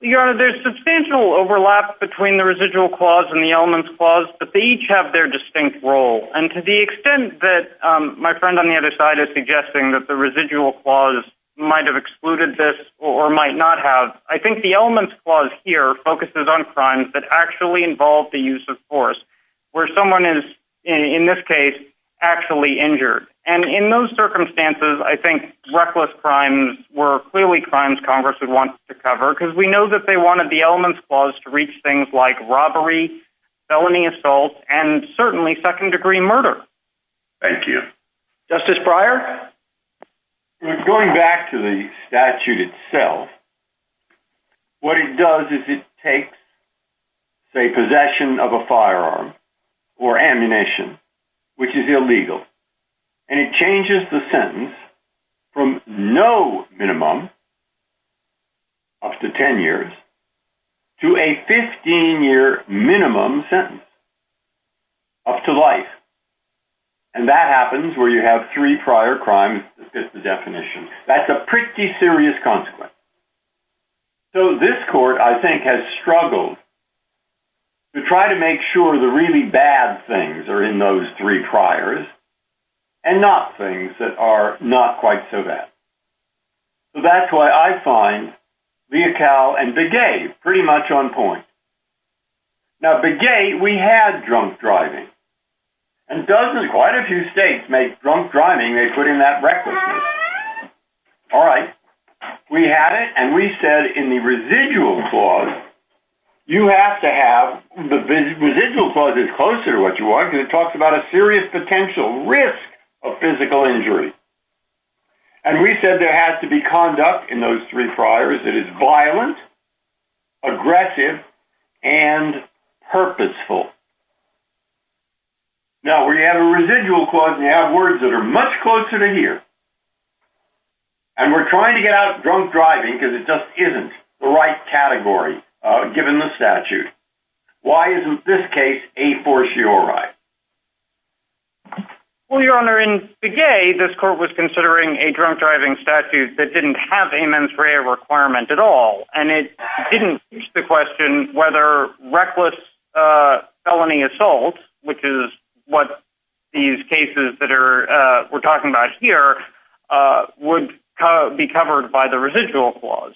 Your Honor, there's substantial overlap between the residual clause and the elements clause, but they each have their distinct role. And to the extent that my friend on the other side is suggesting that the residual clause might have excluded this or might not have, I think the elements clause here focuses on crimes that actually involve the use of force, where someone is, in this case, actually injured. And in those circumstances, I think reckless crimes were clearly crimes Congress would want to cover, because we know that they wanted the elements clause to reach things like robbery, felony assault, and certainly second-degree murder. Thank you. Justice Breyer? Going back to the statute itself, what it does is it takes, say, possession of a firearm or ammunition, which is illegal, and it changes the sentence from no minimum, up to 10 years, to a 15-year minimum sentence, up to life. And that happens where you have three prior crimes that fit the definition. That's a pretty serious consequence. So this Court, I think, has struggled to try to make sure the really bad things are in those three priors and not things that are not quite so bad. So that's why I find Leocal and Begay pretty much on point. Now, Begay, we had drunk driving. And doesn't quite a few states make drunk driving, they put in that requisite. All right. We had it, and we said in the residual clause, you have to have, the residual clause is closer to what you want, because it talks about a serious potential risk of physical injury. And we said there has to be conduct in those three priors that is violent, aggressive, and purposeful. Now, when you have a residual clause, you have words that are much closer to here. And we're trying to get out of drunk driving because it just isn't the right category, given the statute. Why isn't this case a fortiori? Well, Your Honor, in Begay, this Court was considering a drunk driving statute that didn't have a mens rea requirement at all. And it didn't reach the question whether reckless felony assault, which is what these cases that we're talking about here, would be covered by the residual clause.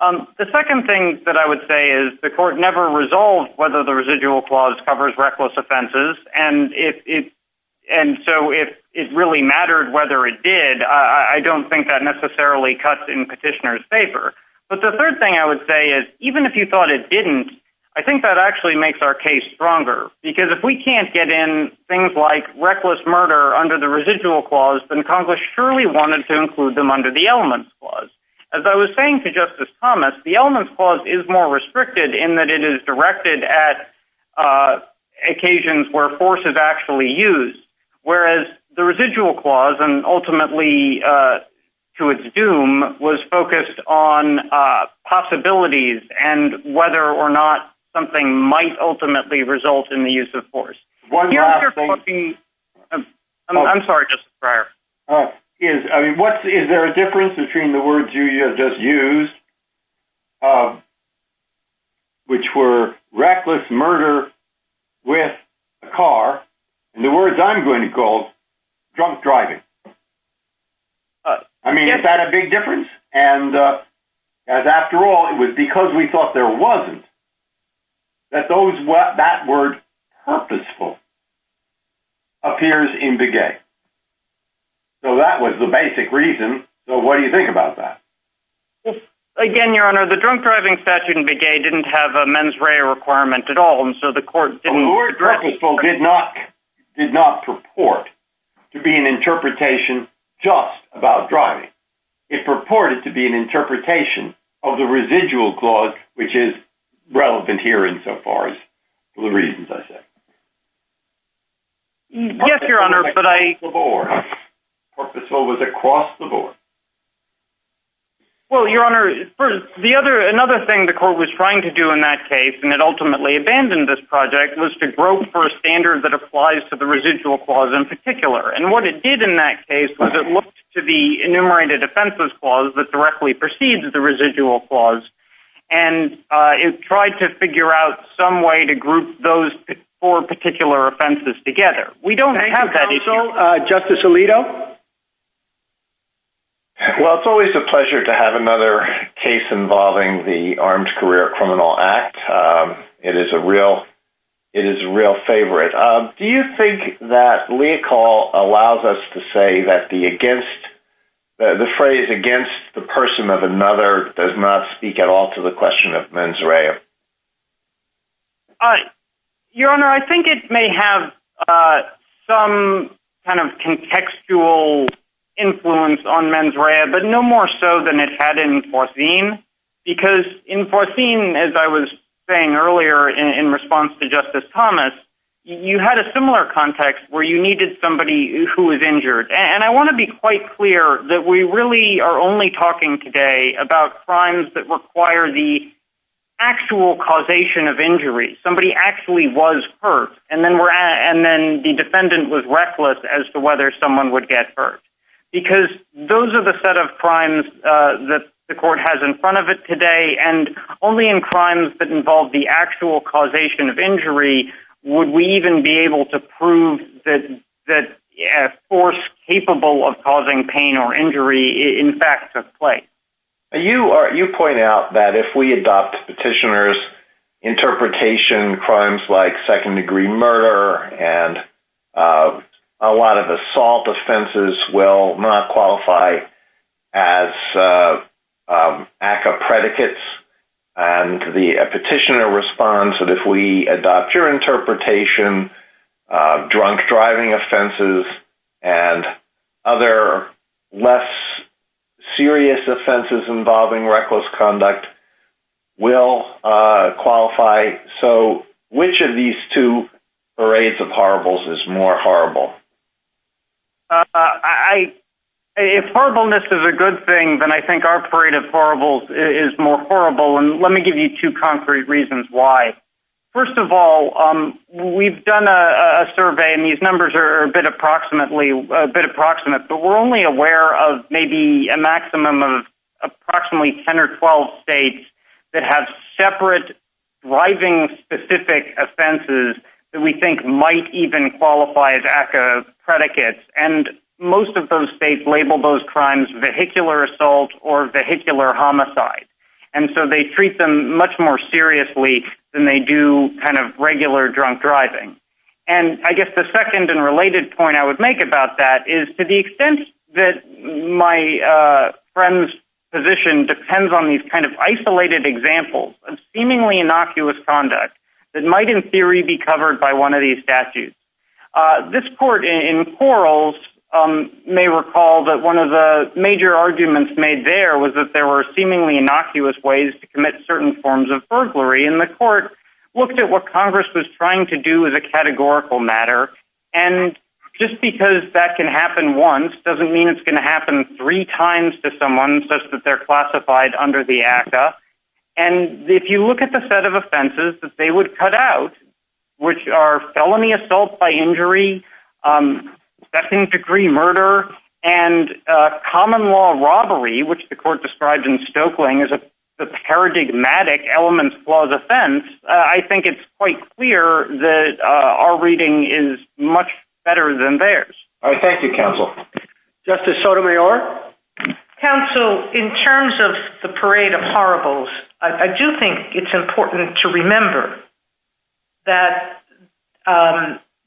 The second thing that I would say is the Court never resolved whether the residual clause covers reckless offenses. And so it really mattered whether it did. I don't think that necessarily cuts in Petitioner's paper. But the third thing I would say is, even if you thought it didn't, I think that actually makes our case stronger. Because if we can't get in things like reckless murder under the residual clause, then Congress surely wanted to include them under the elements clause. As I was saying to Justice Thomas, the elements clause is more restricted in that it is directed at occasions where force is actually used. Whereas the residual clause, and ultimately to its doom, was focused on possibilities and whether or not something might ultimately result in the use of force. I'm sorry, Justice Breyer. Is there a difference between the words you just used, which were reckless murder with a car, and the words I'm going to call drunk driving? I mean, is that a big difference? And after all, it was because we thought there wasn't, that that word purposeful appears in Begay. So that was the basic reason. So what do you think about that? Again, Your Honor, the drunk driving statute in Begay didn't have a mens rea requirement at all, The word purposeful did not purport to be an interpretation just about driving. It purported to be an interpretation of the residual clause, which is relevant here in so far as the reasons I said. Yes, Your Honor, but I... Purposeful was across the board. Well, Your Honor, another thing the court was trying to do in that case, and it ultimately abandoned this project, was to grope for a standard that applies to the residual clause in particular. And what it did in that case was it looked to the enumerated offenses clause that directly precedes the residual clause, and it tried to figure out some way to group those four particular offenses together. We don't have that issue. Counsel, Justice Alito? Well, it's always a pleasure to have another case involving the Armed Career Criminal Act. It is a real favorite. Do you think that legal allows us to say that the phrase against the person of another does not speak at all to the question of mens rea? Your Honor, I think it may have some kind of contextual influence on mens rea, but no more so than it had in Forcine, because in Forcine, as I was saying earlier in response to Justice Thomas, you had a similar context where you needed somebody who was injured. And I want to be quite clear that we really are only talking today about crimes that require the actual causation of injury. Somebody actually was hurt, and then the defendant was reckless as to whether someone would get hurt. Because those are the set of crimes that the court has in front of it today, and only in crimes that involve the actual causation of injury would we even be able to prove that a force capable of causing pain or injury, in fact, took place. You point out that if we adopt petitioners' interpretation, crimes like second-degree murder and a lot of assault offenses will not qualify as ACCA predicates. And the petitioner responds that if we adopt your interpretation, drunk driving offenses and other less serious offenses involving reckless conduct will qualify. So which of these two parades of horribles is more horrible? If horribleness is a good thing, then I think our parade of horribles is more horrible, and let me give you two concrete reasons why. First of all, we've done a survey, and these numbers are a bit approximate, but we're only aware of maybe a maximum of approximately 10 or 12 states that have separate driving-specific offenses that we think might even qualify as ACCA predicates, and most of those states label those crimes vehicular assault or vehicular homicide. And so they treat them much more seriously than they do kind of regular drunk driving. And I guess the second and related point I would make about that is, to the extent that my friend's position depends on these kind of isolated examples of seemingly innocuous conduct that might in theory be covered by one of these statutes, this court in Quarles may recall that one of the major arguments made there was that there were seemingly innocuous ways to commit certain forms of burglary, and the court looked at what Congress was trying to do as a categorical matter, and just because that can happen once doesn't mean it's going to happen three times to someone such that they're classified under the ACCA. And if you look at the set of offenses that they would cut out, which are felony assault by injury, second-degree murder, and common law robbery, which the court described in Stoeckling as a paradigmatic elements clause offense, I think it's quite clear that our reading is much better than theirs. Thank you, counsel. Justice Sotomayor? Counsel, in terms of the parade of horribles, I do think it's important to remember that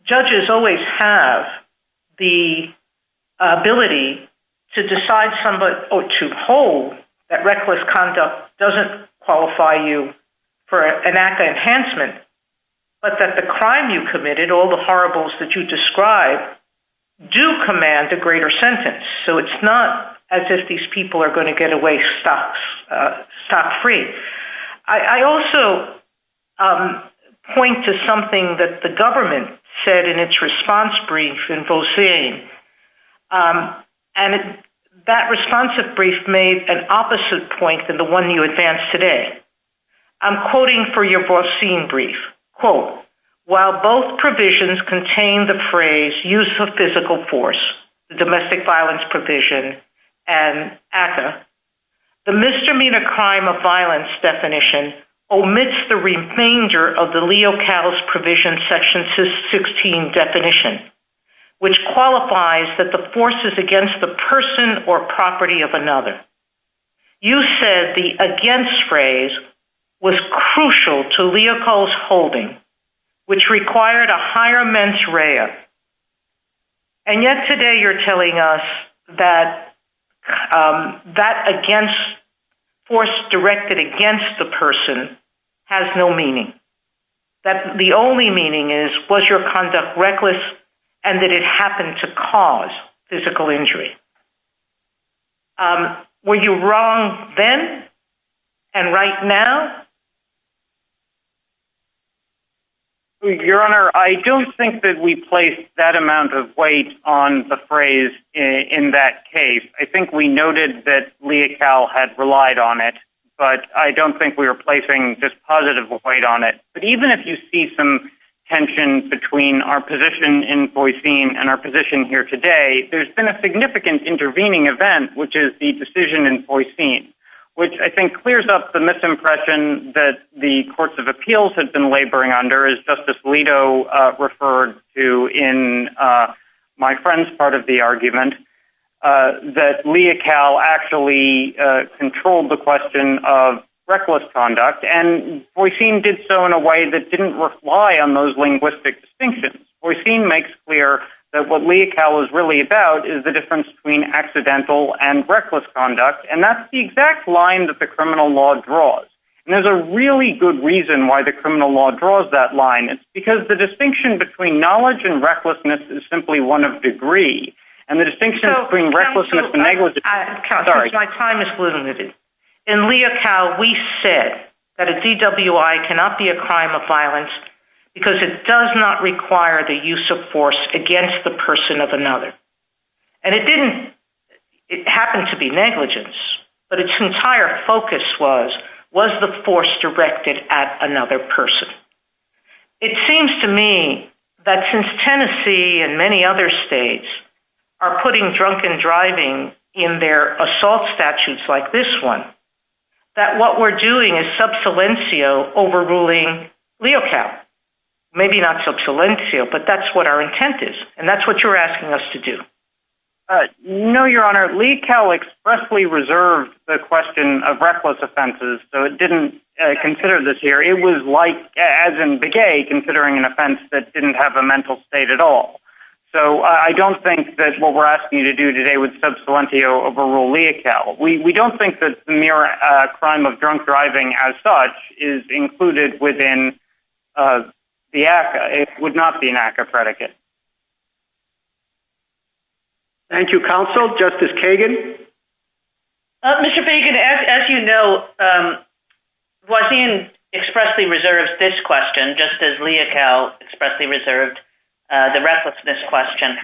judges always have the ability to decide or to hold that reckless conduct doesn't qualify you for an ACCA enhancement, but that the crime you committed, all the horribles that you described, do command a greater sentence. So it's not as if these people are going to get away stock-free. I also point to something that the government said in its response brief in Volzheim, and that response brief made an opposite point than the one you advanced today. I'm quoting from your Volzheim brief. Quote, while both provisions contain the phrase, use of physical force, the domestic violence provision and ACCA, the misdemeanor crime of violence definition omits the remainder of the Leo Cattles provision section 16 definition, which qualifies that the force is against the person or property of another. You said the against phrase was crucial to Leo Cattles' holding, which required a higher mens rea. And yet today you're telling us that that force directed against the person has no meaning, that the only meaning is was your conduct reckless and that it happened to cause physical injury. Were you wrong then and right now? Your Honor, I don't think that we placed that amount of weight on the phrase in that case. I think we noted that Leo Cattles had relied on it, but I don't think we were placing this positive weight on it. But even if you see some tension between our position in Volzheim and our position here today, there's been a significant intervening event, which is the decision in Volzheim, which I think clears up the misimpression that the courts of appeals have been laboring under, as Justice Alito referred to in my friend's part of the argument, that Leo Cattles actually controlled the question of reckless conduct. And Volzheim did so in a way that didn't rely on those linguistic distinctions. Volzheim makes clear that what Leo Cattles is really about is the difference between accidental and reckless conduct. And that's the exact line that the criminal law draws. And there's a really good reason why the criminal law draws that line. It's because the distinction between knowledge and recklessness is simply one of degree. And the distinction between recklessness and negligence... My time is limited. In Leo Cattles, we said that a DWI cannot be a crime of violence because it does not require the use of force against the person of another. And it didn't. It happened to be negligence. But its entire focus was, was the force directed at another person? It seems to me that since Tennessee and many other states are putting drunken driving in their assault statutes like this one, that what we're doing is sub silencio overruling Leo Cattles. Maybe not sub silencio, but that's what our intent is. And that's what you're asking us to do. No, Your Honor. Leo Cattles expressly reserved the question of reckless offenses, so it didn't consider this here. It was like, as in Begay, considering an offense that didn't have a mental state at all. So I don't think that's what we're asking you to do today with sub silencio overruling Leo Cattles. We don't think that the mere crime of drunk driving as such is included within the act. It would not be an act of predicate. Thank you, counsel. Justice Kagan? Mr. Bacon, as you know, Wasim expressly reserved this question, just as Leo Cattles expressly reserved the recklessness question.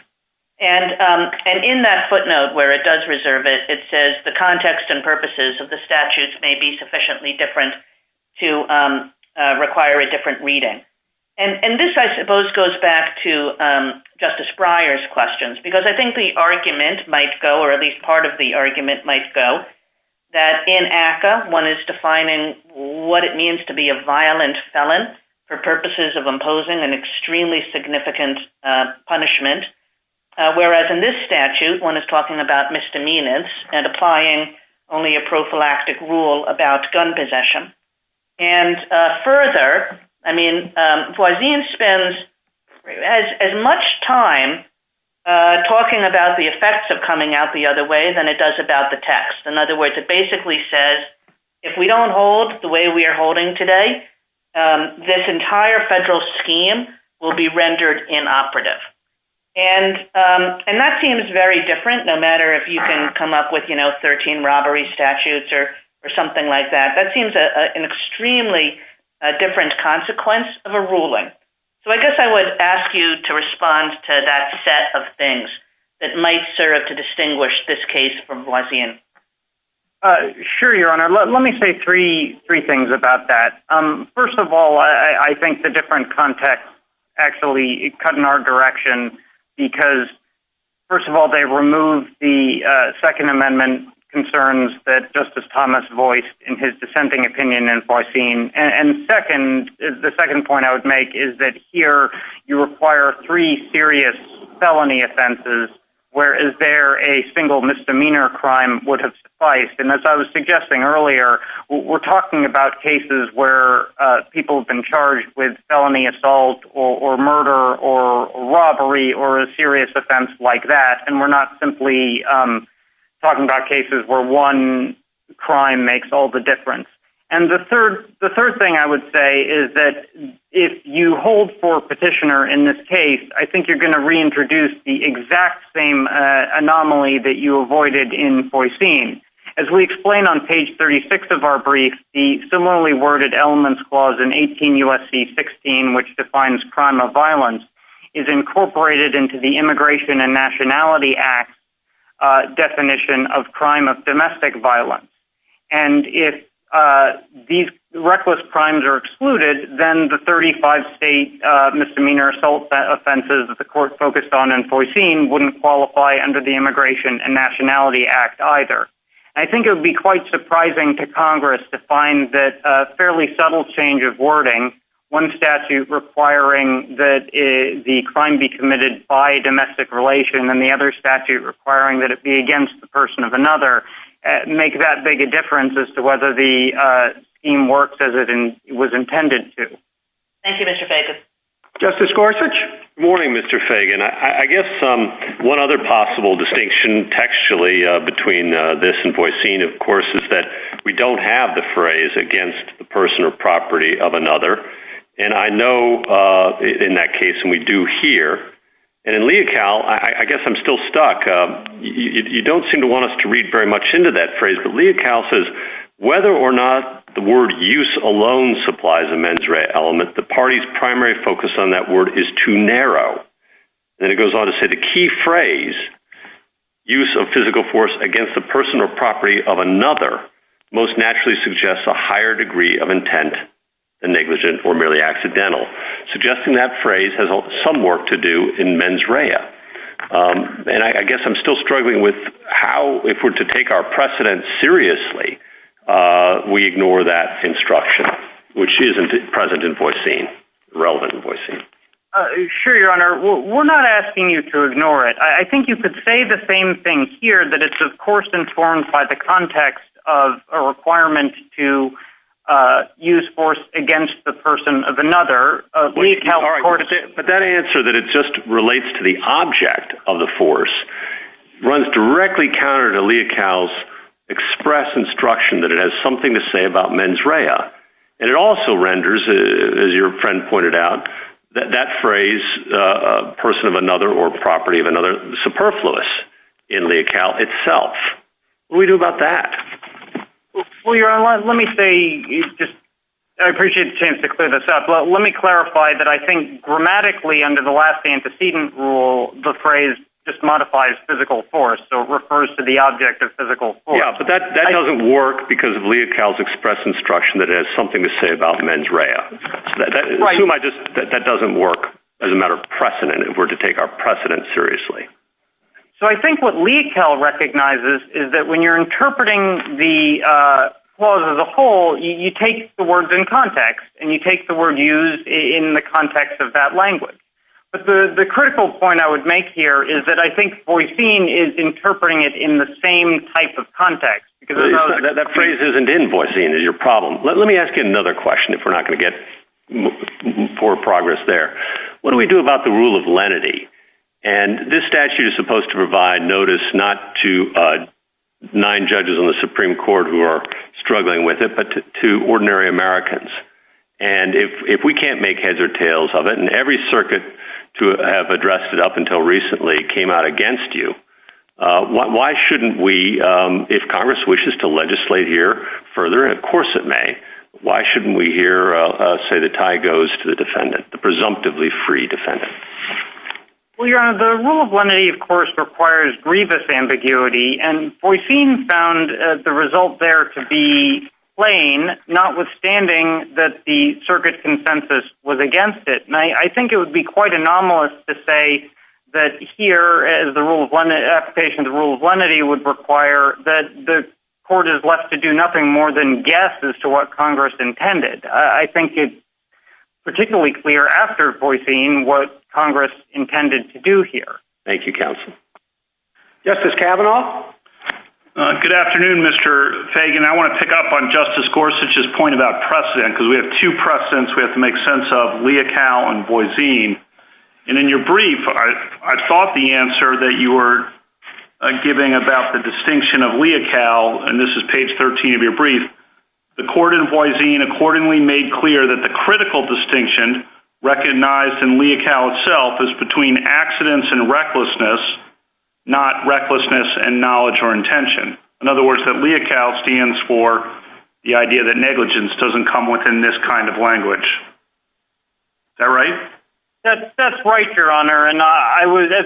And in that footnote where it does reserve it, it says the context and purposes of the statutes may be sufficiently different to require a different reading. And this, I suppose, goes back to Justice Breyer's questions, because I think the argument might go, or at least part of the argument might go, that in ACCA, one is defining what it means to be a violent felon for purposes of imposing an extremely significant punishment, whereas in this statute, one is talking about misdemeanors and applying only a prophylactic rule about gun possession. And further, I mean, Wasim spends as much time talking about the effects of coming out the other way than it does about the test. In other words, it basically says, if we don't hold the way we are holding today, this entire federal scheme will be rendered inoperative. And that seems very different, no matter if you can come up with, you know, 13 robbery statutes or something like that. That seems an extremely different consequence of a ruling. So I guess I would ask you to respond to that set of things that might serve to distinguish this case from Wasim. Sure, Your Honor. Let me say three things about that. First of all, I think the different context actually cut in our direction, because first of all, they removed the Second Amendment concerns that Justice Thomas voiced in his dissenting opinion in Wasim. And second, the second point I would make is that here you require three serious felony offenses, whereas there a single misdemeanor crime would have sufficed. And as I was suggesting earlier, we're talking about cases where people have been charged with felony assault or murder or robbery or a serious offense like that. And we're not simply talking about cases where one crime makes all the difference. And the third thing I would say is that if you hold for petitioner in this case, I think you're going to reintroduce the exact same anomaly that you avoided in Wasim. As we explained on page 36 of our brief, the similarly worded elements clause in 18 U.S.C. 16, which defines crime of violence, is incorporated into the Immigration and Nationality Act definition of crime of domestic violence. And if these reckless crimes are excluded, then the 35 state misdemeanor assault offenses that the court focused on and foreseen wouldn't qualify under the Immigration and Nationality Act either. I think it would be quite surprising to Congress to find that a fairly subtle change of wording, one statute requiring that the crime be committed by domestic relation and the other statute requiring that it be against the person of another, make that big a difference as to whether the scheme works as it was intended to. Thank you, Mr. Fagan. Justice Gorsuch? Good morning, Mr. Fagan. I guess one other possible distinction textually between this and Wasim, of course, is that we don't have the phrase against the person or property of another. And I know in that case, and we do here, and in Leocal, I guess I'm still stuck. You don't seem to want us to read very much into that phrase, but Leocal says, whether or not the word use alone supplies a mens rea element, the party's primary focus on that word is too narrow. And it goes on to say the key phrase, use of physical force against the person or property of another, most naturally suggests a higher degree of intent than negligent or merely accidental. Suggesting that phrase has some work to do in mens rea. And I guess I'm still struggling with how, if we're to take our precedent seriously, we ignore that instruction, which isn't present in Wasim, relevant in Wasim. Sure, Your Honor. We're not asking you to ignore it. I think you could say the same thing here, that it's, of course, informed by the context of a requirement to use force against the person of another. But that answer, that it just relates to the object of the force, runs directly counter to Leocal's express instruction that it has something to say about mens rea. And it also renders, as your friend pointed out, that phrase, person of another or property of another, superfluous in Leocal itself. What do we do about that? Well, Your Honor, let me say, I appreciate the chance to clear this up, but let me clarify that I think grammatically, under the last antecedent rule, the phrase just modifies physical force, so it refers to the object of physical force. Yeah, but that doesn't work because of Leocal's express instruction that it has something to say about mens rea. Right. That doesn't work as a matter of precedent if we're to take our precedent seriously. So I think what Leocal recognizes is that when you're interpreting the clause as a whole, you take the words in context and you take the word used in the context of that language. But the critical point I would make here is that I think Voicene is interpreting it in the same type of context. That phrase isn't in Voicene is your problem. Let me ask you another question if we're not going to get poor progress there. What do we do about the rule of lenity? And this statute is supposed to provide notice not to nine judges in the Supreme Court who are struggling with it, but to ordinary Americans. And if we can't make heads or tails of it, and every circuit to have addressed it up until recently came out against you, why shouldn't we, if Congress wishes to legislate here further, and of course it may, why shouldn't we hear say the tie goes to the defendant, the presumptively free defendant? Well, Your Honor, the rule of lenity, of course, requires grievous ambiguity, and Voicene found the result there to be plain, notwithstanding that the circuit consensus was against it. And I think it would be quite anomalous to say that here, as the rule of application, the rule of lenity would require that the court is left to do nothing more than guess as to what Congress intended. I think it's particularly clear after Voicene what Congress intended to do here. Thank you, counsel. Justice Kavanaugh? Good afternoon, Mr. Fagan. I want to pick up on Justice Gorsuch's point about precedent, because we have two precedents we have to make sense of, Leocal and Voicene. And in your brief, I thought the answer that you were giving about the distinction of Leocal, and this is page 13 of your brief, the court in Voicene accordingly made clear that the critical distinction recognized in Leocal itself is between accidents and recklessness, not recklessness and knowledge or intention. In other words, that Leocal stands for the idea that negligence doesn't come within this kind of language. Is that right? That's right, Your Honor. And as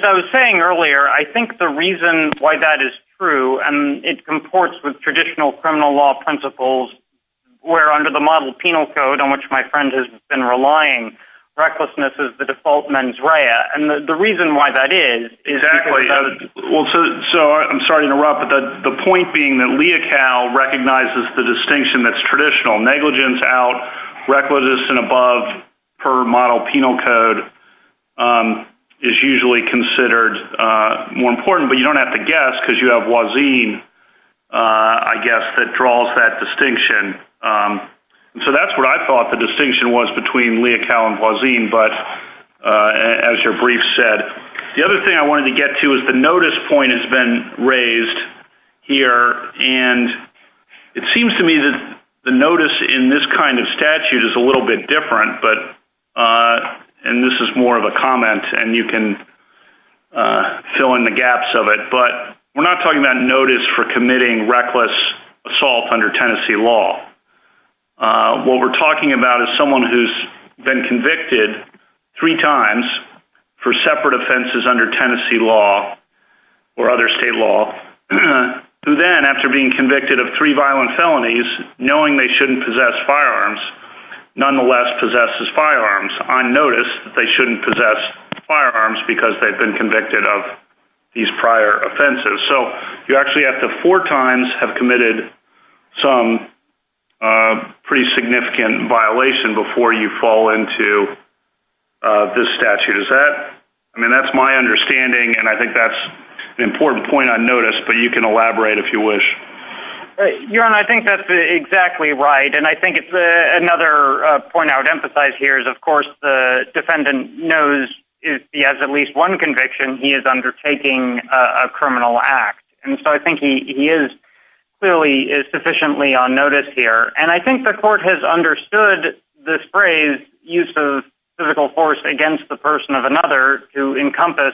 I was saying earlier, I think the reason why that is true, and it comports with traditional criminal law principles, where under the model penal code on which my friend has been relying, recklessness is the default mens rea, and the reason why that is. Exactly. I'm sorry to interrupt, but the point being that Leocal recognizes the distinction that's traditional. Negligence out, recklessness in above per model penal code is usually considered more important, but you don't have to guess because you have Voicene, I guess, that draws that distinction. So that's what I thought the distinction was between Leocal and Voicene, but as your brief said. The other thing I wanted to get to is the notice point has been raised here, and it seems to me that the notice in this kind of statute is a little bit different, and this is more of a comment, and you can fill in the gaps of it, but we're not talking about notice for committing reckless assault under Tennessee law. What we're talking about is someone who's been convicted three times for separate offenses under Tennessee law or other state law, who then, after being convicted of three violent felonies, knowing they shouldn't possess firearms, nonetheless possesses firearms on notice that they shouldn't possess firearms because they've been convicted of these prior offenses. So you actually have to four times have committed some pretty significant violation before you fall into this statute. Is that—I mean, that's my understanding, and I think that's an important point on notice, but you can elaborate if you wish. Your Honor, I think that's exactly right, and I think another point I would emphasize here is, of course, the defendant knows if he has at least one conviction, he is undertaking a criminal act, and so I think he is clearly sufficiently on notice here, and I think the court has understood this phrase, physical force against the person of another to encompass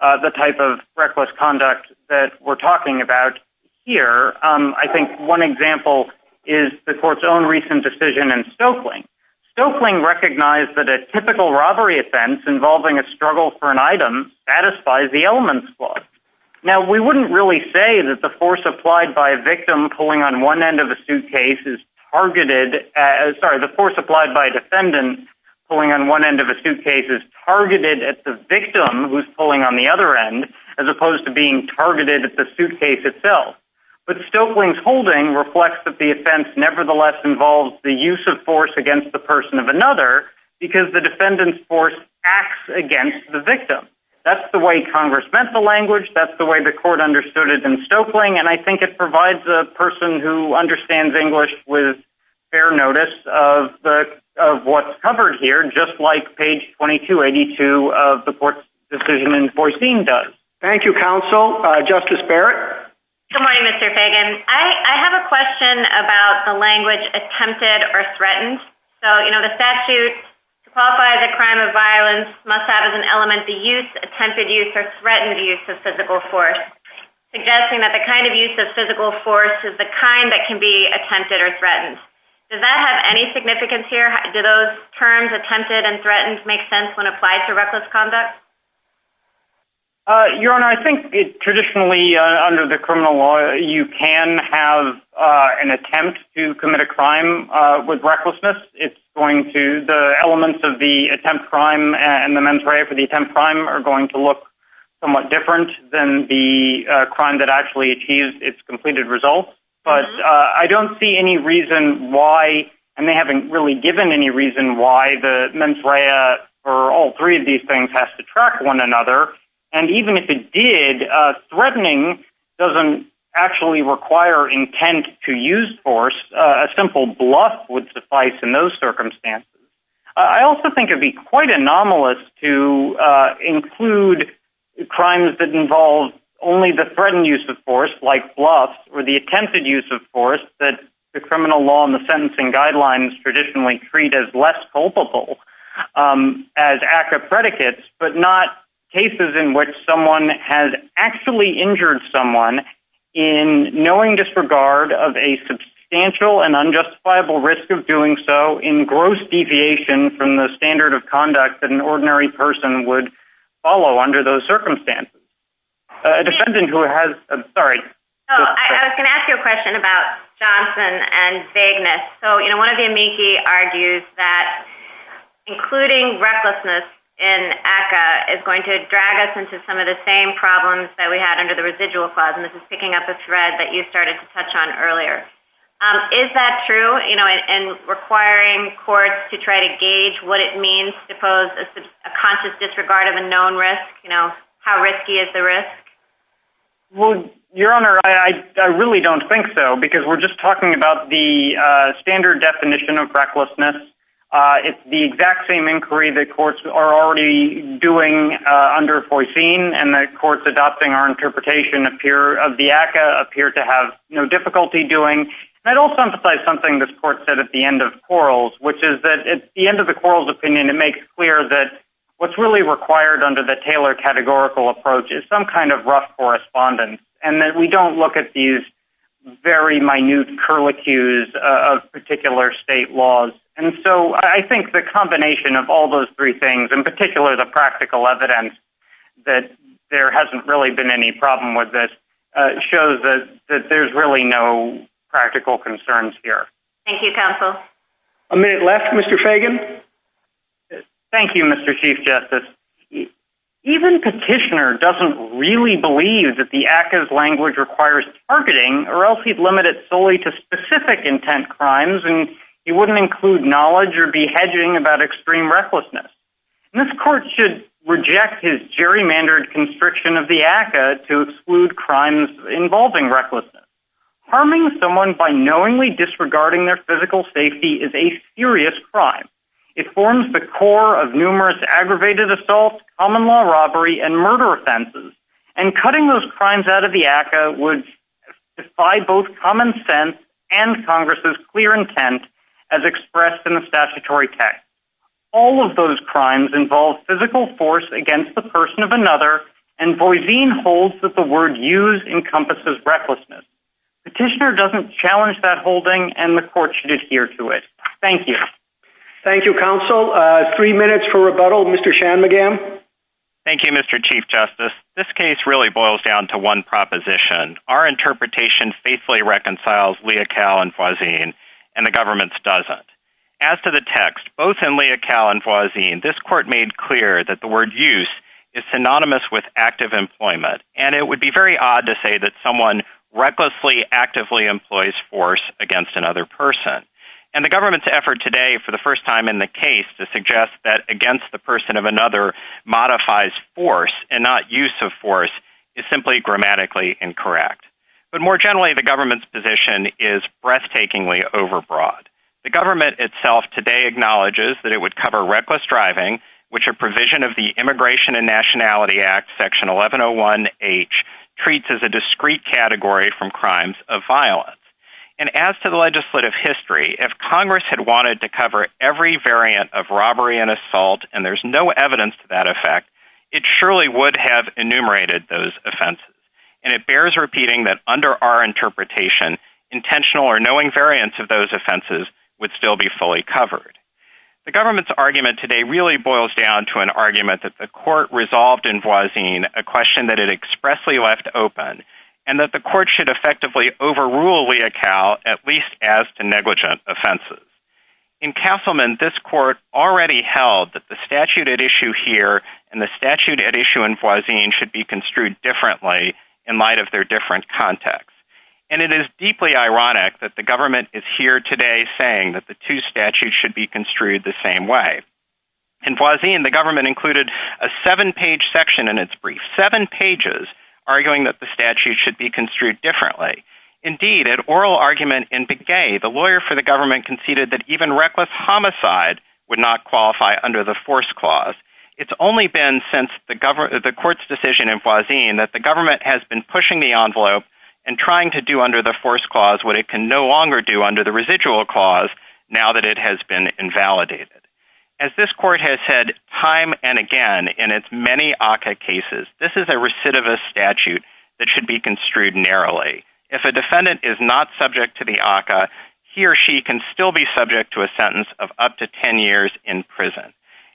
the type of reckless conduct that we're talking about here. I think one example is the court's own recent decision in Stokeling. Stokeling recognized that a typical robbery offense involving a struggle for an item satisfies the elements clause. Now, we wouldn't really say that the force applied by a victim pulling on one end of a suitcase is targeted— sorry, the force applied by a defendant pulling on one end of a suitcase is targeted at the victim who's pulling on the other end, as opposed to being targeted at the suitcase itself. But Stokeling's holding reflects that the offense nevertheless involves the use of force against the person of another That's the way Congress meant the language, that's the way the court understood it in Stokeling, and I think it provides a person who understands English with fair notice of what's covered here, just like page 2282 of the court's decision in Vorstein does. Thank you, counsel. Justice Barrett? Good morning, Mr. Fagan. I have a question about the language attempted or threatened. So, you know, the statute qualifies a crime of violence must have as an element the use, attempted use, or threatened use of physical force, suggesting that the kind of use of physical force is the kind that can be attempted or threatened. Does that have any significance here? Do those terms, attempted and threatened, make sense when applied to reckless conduct? Your Honor, I think traditionally under the criminal law, you can have an attempt to commit a crime with recklessness. It's going to, the elements of the attempt crime and the mens rea for the attempt crime, are going to look somewhat different than the crime that actually achieves its completed result. But I don't see any reason why and they haven't really given any reason why the mens rea or all three of these things have to track one another. And even if it did, threatening doesn't actually require intent to use force. A simple bluff would suffice in those circumstances. I also think it would be quite anomalous to include crimes that involve only the threatened use of force, like bluff, or the attempted use of force that the criminal law and the sentencing guidelines traditionally treat as less culpable as active predicates, but not cases in which someone has actually injured someone in knowing disregard of a substantial and unjustifiable risk of doing so in gross deviation from the standard of conduct that an ordinary person would follow under those circumstances. A defendant who has, sorry. I was going to ask you a question about Johnson and Vagueness. So, you know, one of the amici argues that including recklessness in ACCA is going to drag us into some of the same problems that we had under the residual clause, and this is picking up a thread that you started to touch on earlier. Is that true? You know, and requiring courts to try to gauge what it means to pose a conscious disregard of a known risk? You know, how risky is the risk? Well, Your Honor, I really don't think so, because we're just talking about the standard definition of recklessness. It's the exact same inquiry that courts are already doing under FOISINE, and the courts adopting our interpretation of the ACCA appear to have no difficulty doing. I'd also emphasize something this court said at the end of Quarles, which is that at the end of the Quarles opinion, it makes clear that what's really required under the Taylor categorical approach is some kind of rough correspondence, and that we don't look at these very minute curlicues of particular state laws. And so I think the combination of all those three things, in particular the practical evidence that there hasn't really been any problem with this, shows that there's really no practical concerns here. Thank you, counsel. A minute left, Mr. Shagan. Thank you, Mr. Chief Justice. Even Petitioner doesn't really believe that the ACCA's language requires targeting, or else he'd limit it solely to specific intent crimes, and he wouldn't include knowledge or be hedging about extreme recklessness. This court should reject his gerrymandered constriction of the ACCA to exclude crimes involving recklessness. Harming someone by knowingly disregarding their physical safety is a serious crime. It forms the core of numerous aggravated assaults, common law robbery, and murder offenses, and cutting those crimes out of the ACCA would defy both common sense and Congress's clear intent, as expressed in the statutory text. All of those crimes involve physical force against the person of another, and Boiseen holds that the word used encompasses recklessness. Petitioner doesn't challenge that holding, and the court should adhere to it. Thank you. Thank you, counsel. Three minutes for rebuttal. Mr. Shanmugam. Thank you, Mr. Chief Justice. This case really boils down to one proposition. Our interpretation faithfully reconciles Leocal and Boiseen, and the government's doesn't. As to the text, both in Leocal and Boiseen, this court made clear that the word used is synonymous with active employment, and it would be very odd to say that someone recklessly actively employs force against another person. And the government's effort today, for the first time in the case, to suggest that against the person of another modifies force and not use of force is simply grammatically incorrect. But more generally, the government's position is breathtakingly overbroad. The government itself today acknowledges that it would cover reckless driving, which a provision of the Immigration and Nationality Act, Section 1101H, treats as a discrete category from crimes of violence. And as to the legislative history, if Congress had wanted to cover every variant of robbery and assault, and there's no evidence to that effect, it surely would have enumerated those offenses. And it bears repeating that under our interpretation, intentional or knowing variants of those offenses would still be fully covered. The government's argument today really boils down to an argument that the court resolved in Boiseen, a question that it expressly left open, and that the court should effectively overrule Leocal, at least as to negligent offenses. In Castleman, this court already held that the statute at issue here and the statute at issue in Boiseen should be construed differently in light of their different contexts. And it is deeply ironic that the government is here today saying that the two statutes should be construed the same way. In Boiseen, the government included a seven-page section in its brief, seven pages arguing that the statute should be construed differently. Indeed, at oral argument in Begay, the lawyer for the government conceded that even reckless homicide would not qualify under the force clause. It's only been since the court's decision in Boiseen that the government has been pushing the envelope and trying to do under the force clause what it can no longer do under the residual clause now that it has been invalidated. As this court has said time and again in its many ACCA cases, this is a recidivist statute that should be construed narrowly. If a defendant is not subject to the ACCA, he or she can still be subject to a sentence of up to 10 years in prison.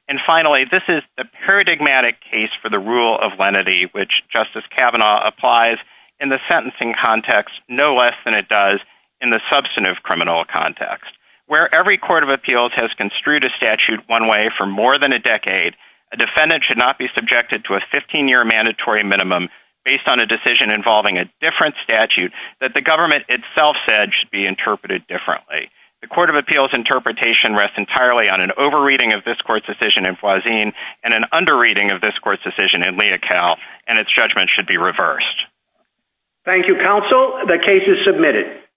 And finally, this is a paradigmatic case for the rule of lenity, which Justice Kavanaugh applies in the sentencing context no less than it does in the substantive criminal context. Where every court of appeals has construed a statute one way for more than a decade, a defendant should not be subjected to a 15-year mandatory minimum based on a decision involving a different statute that the government itself said should be interpreted differently. The court of appeals interpretation rests entirely on an over-reading of this court's decision in Boiseen and an under-reading of this court's decision in Leocal, and its judgment should be reversed. Thank you, counsel. The case is submitted.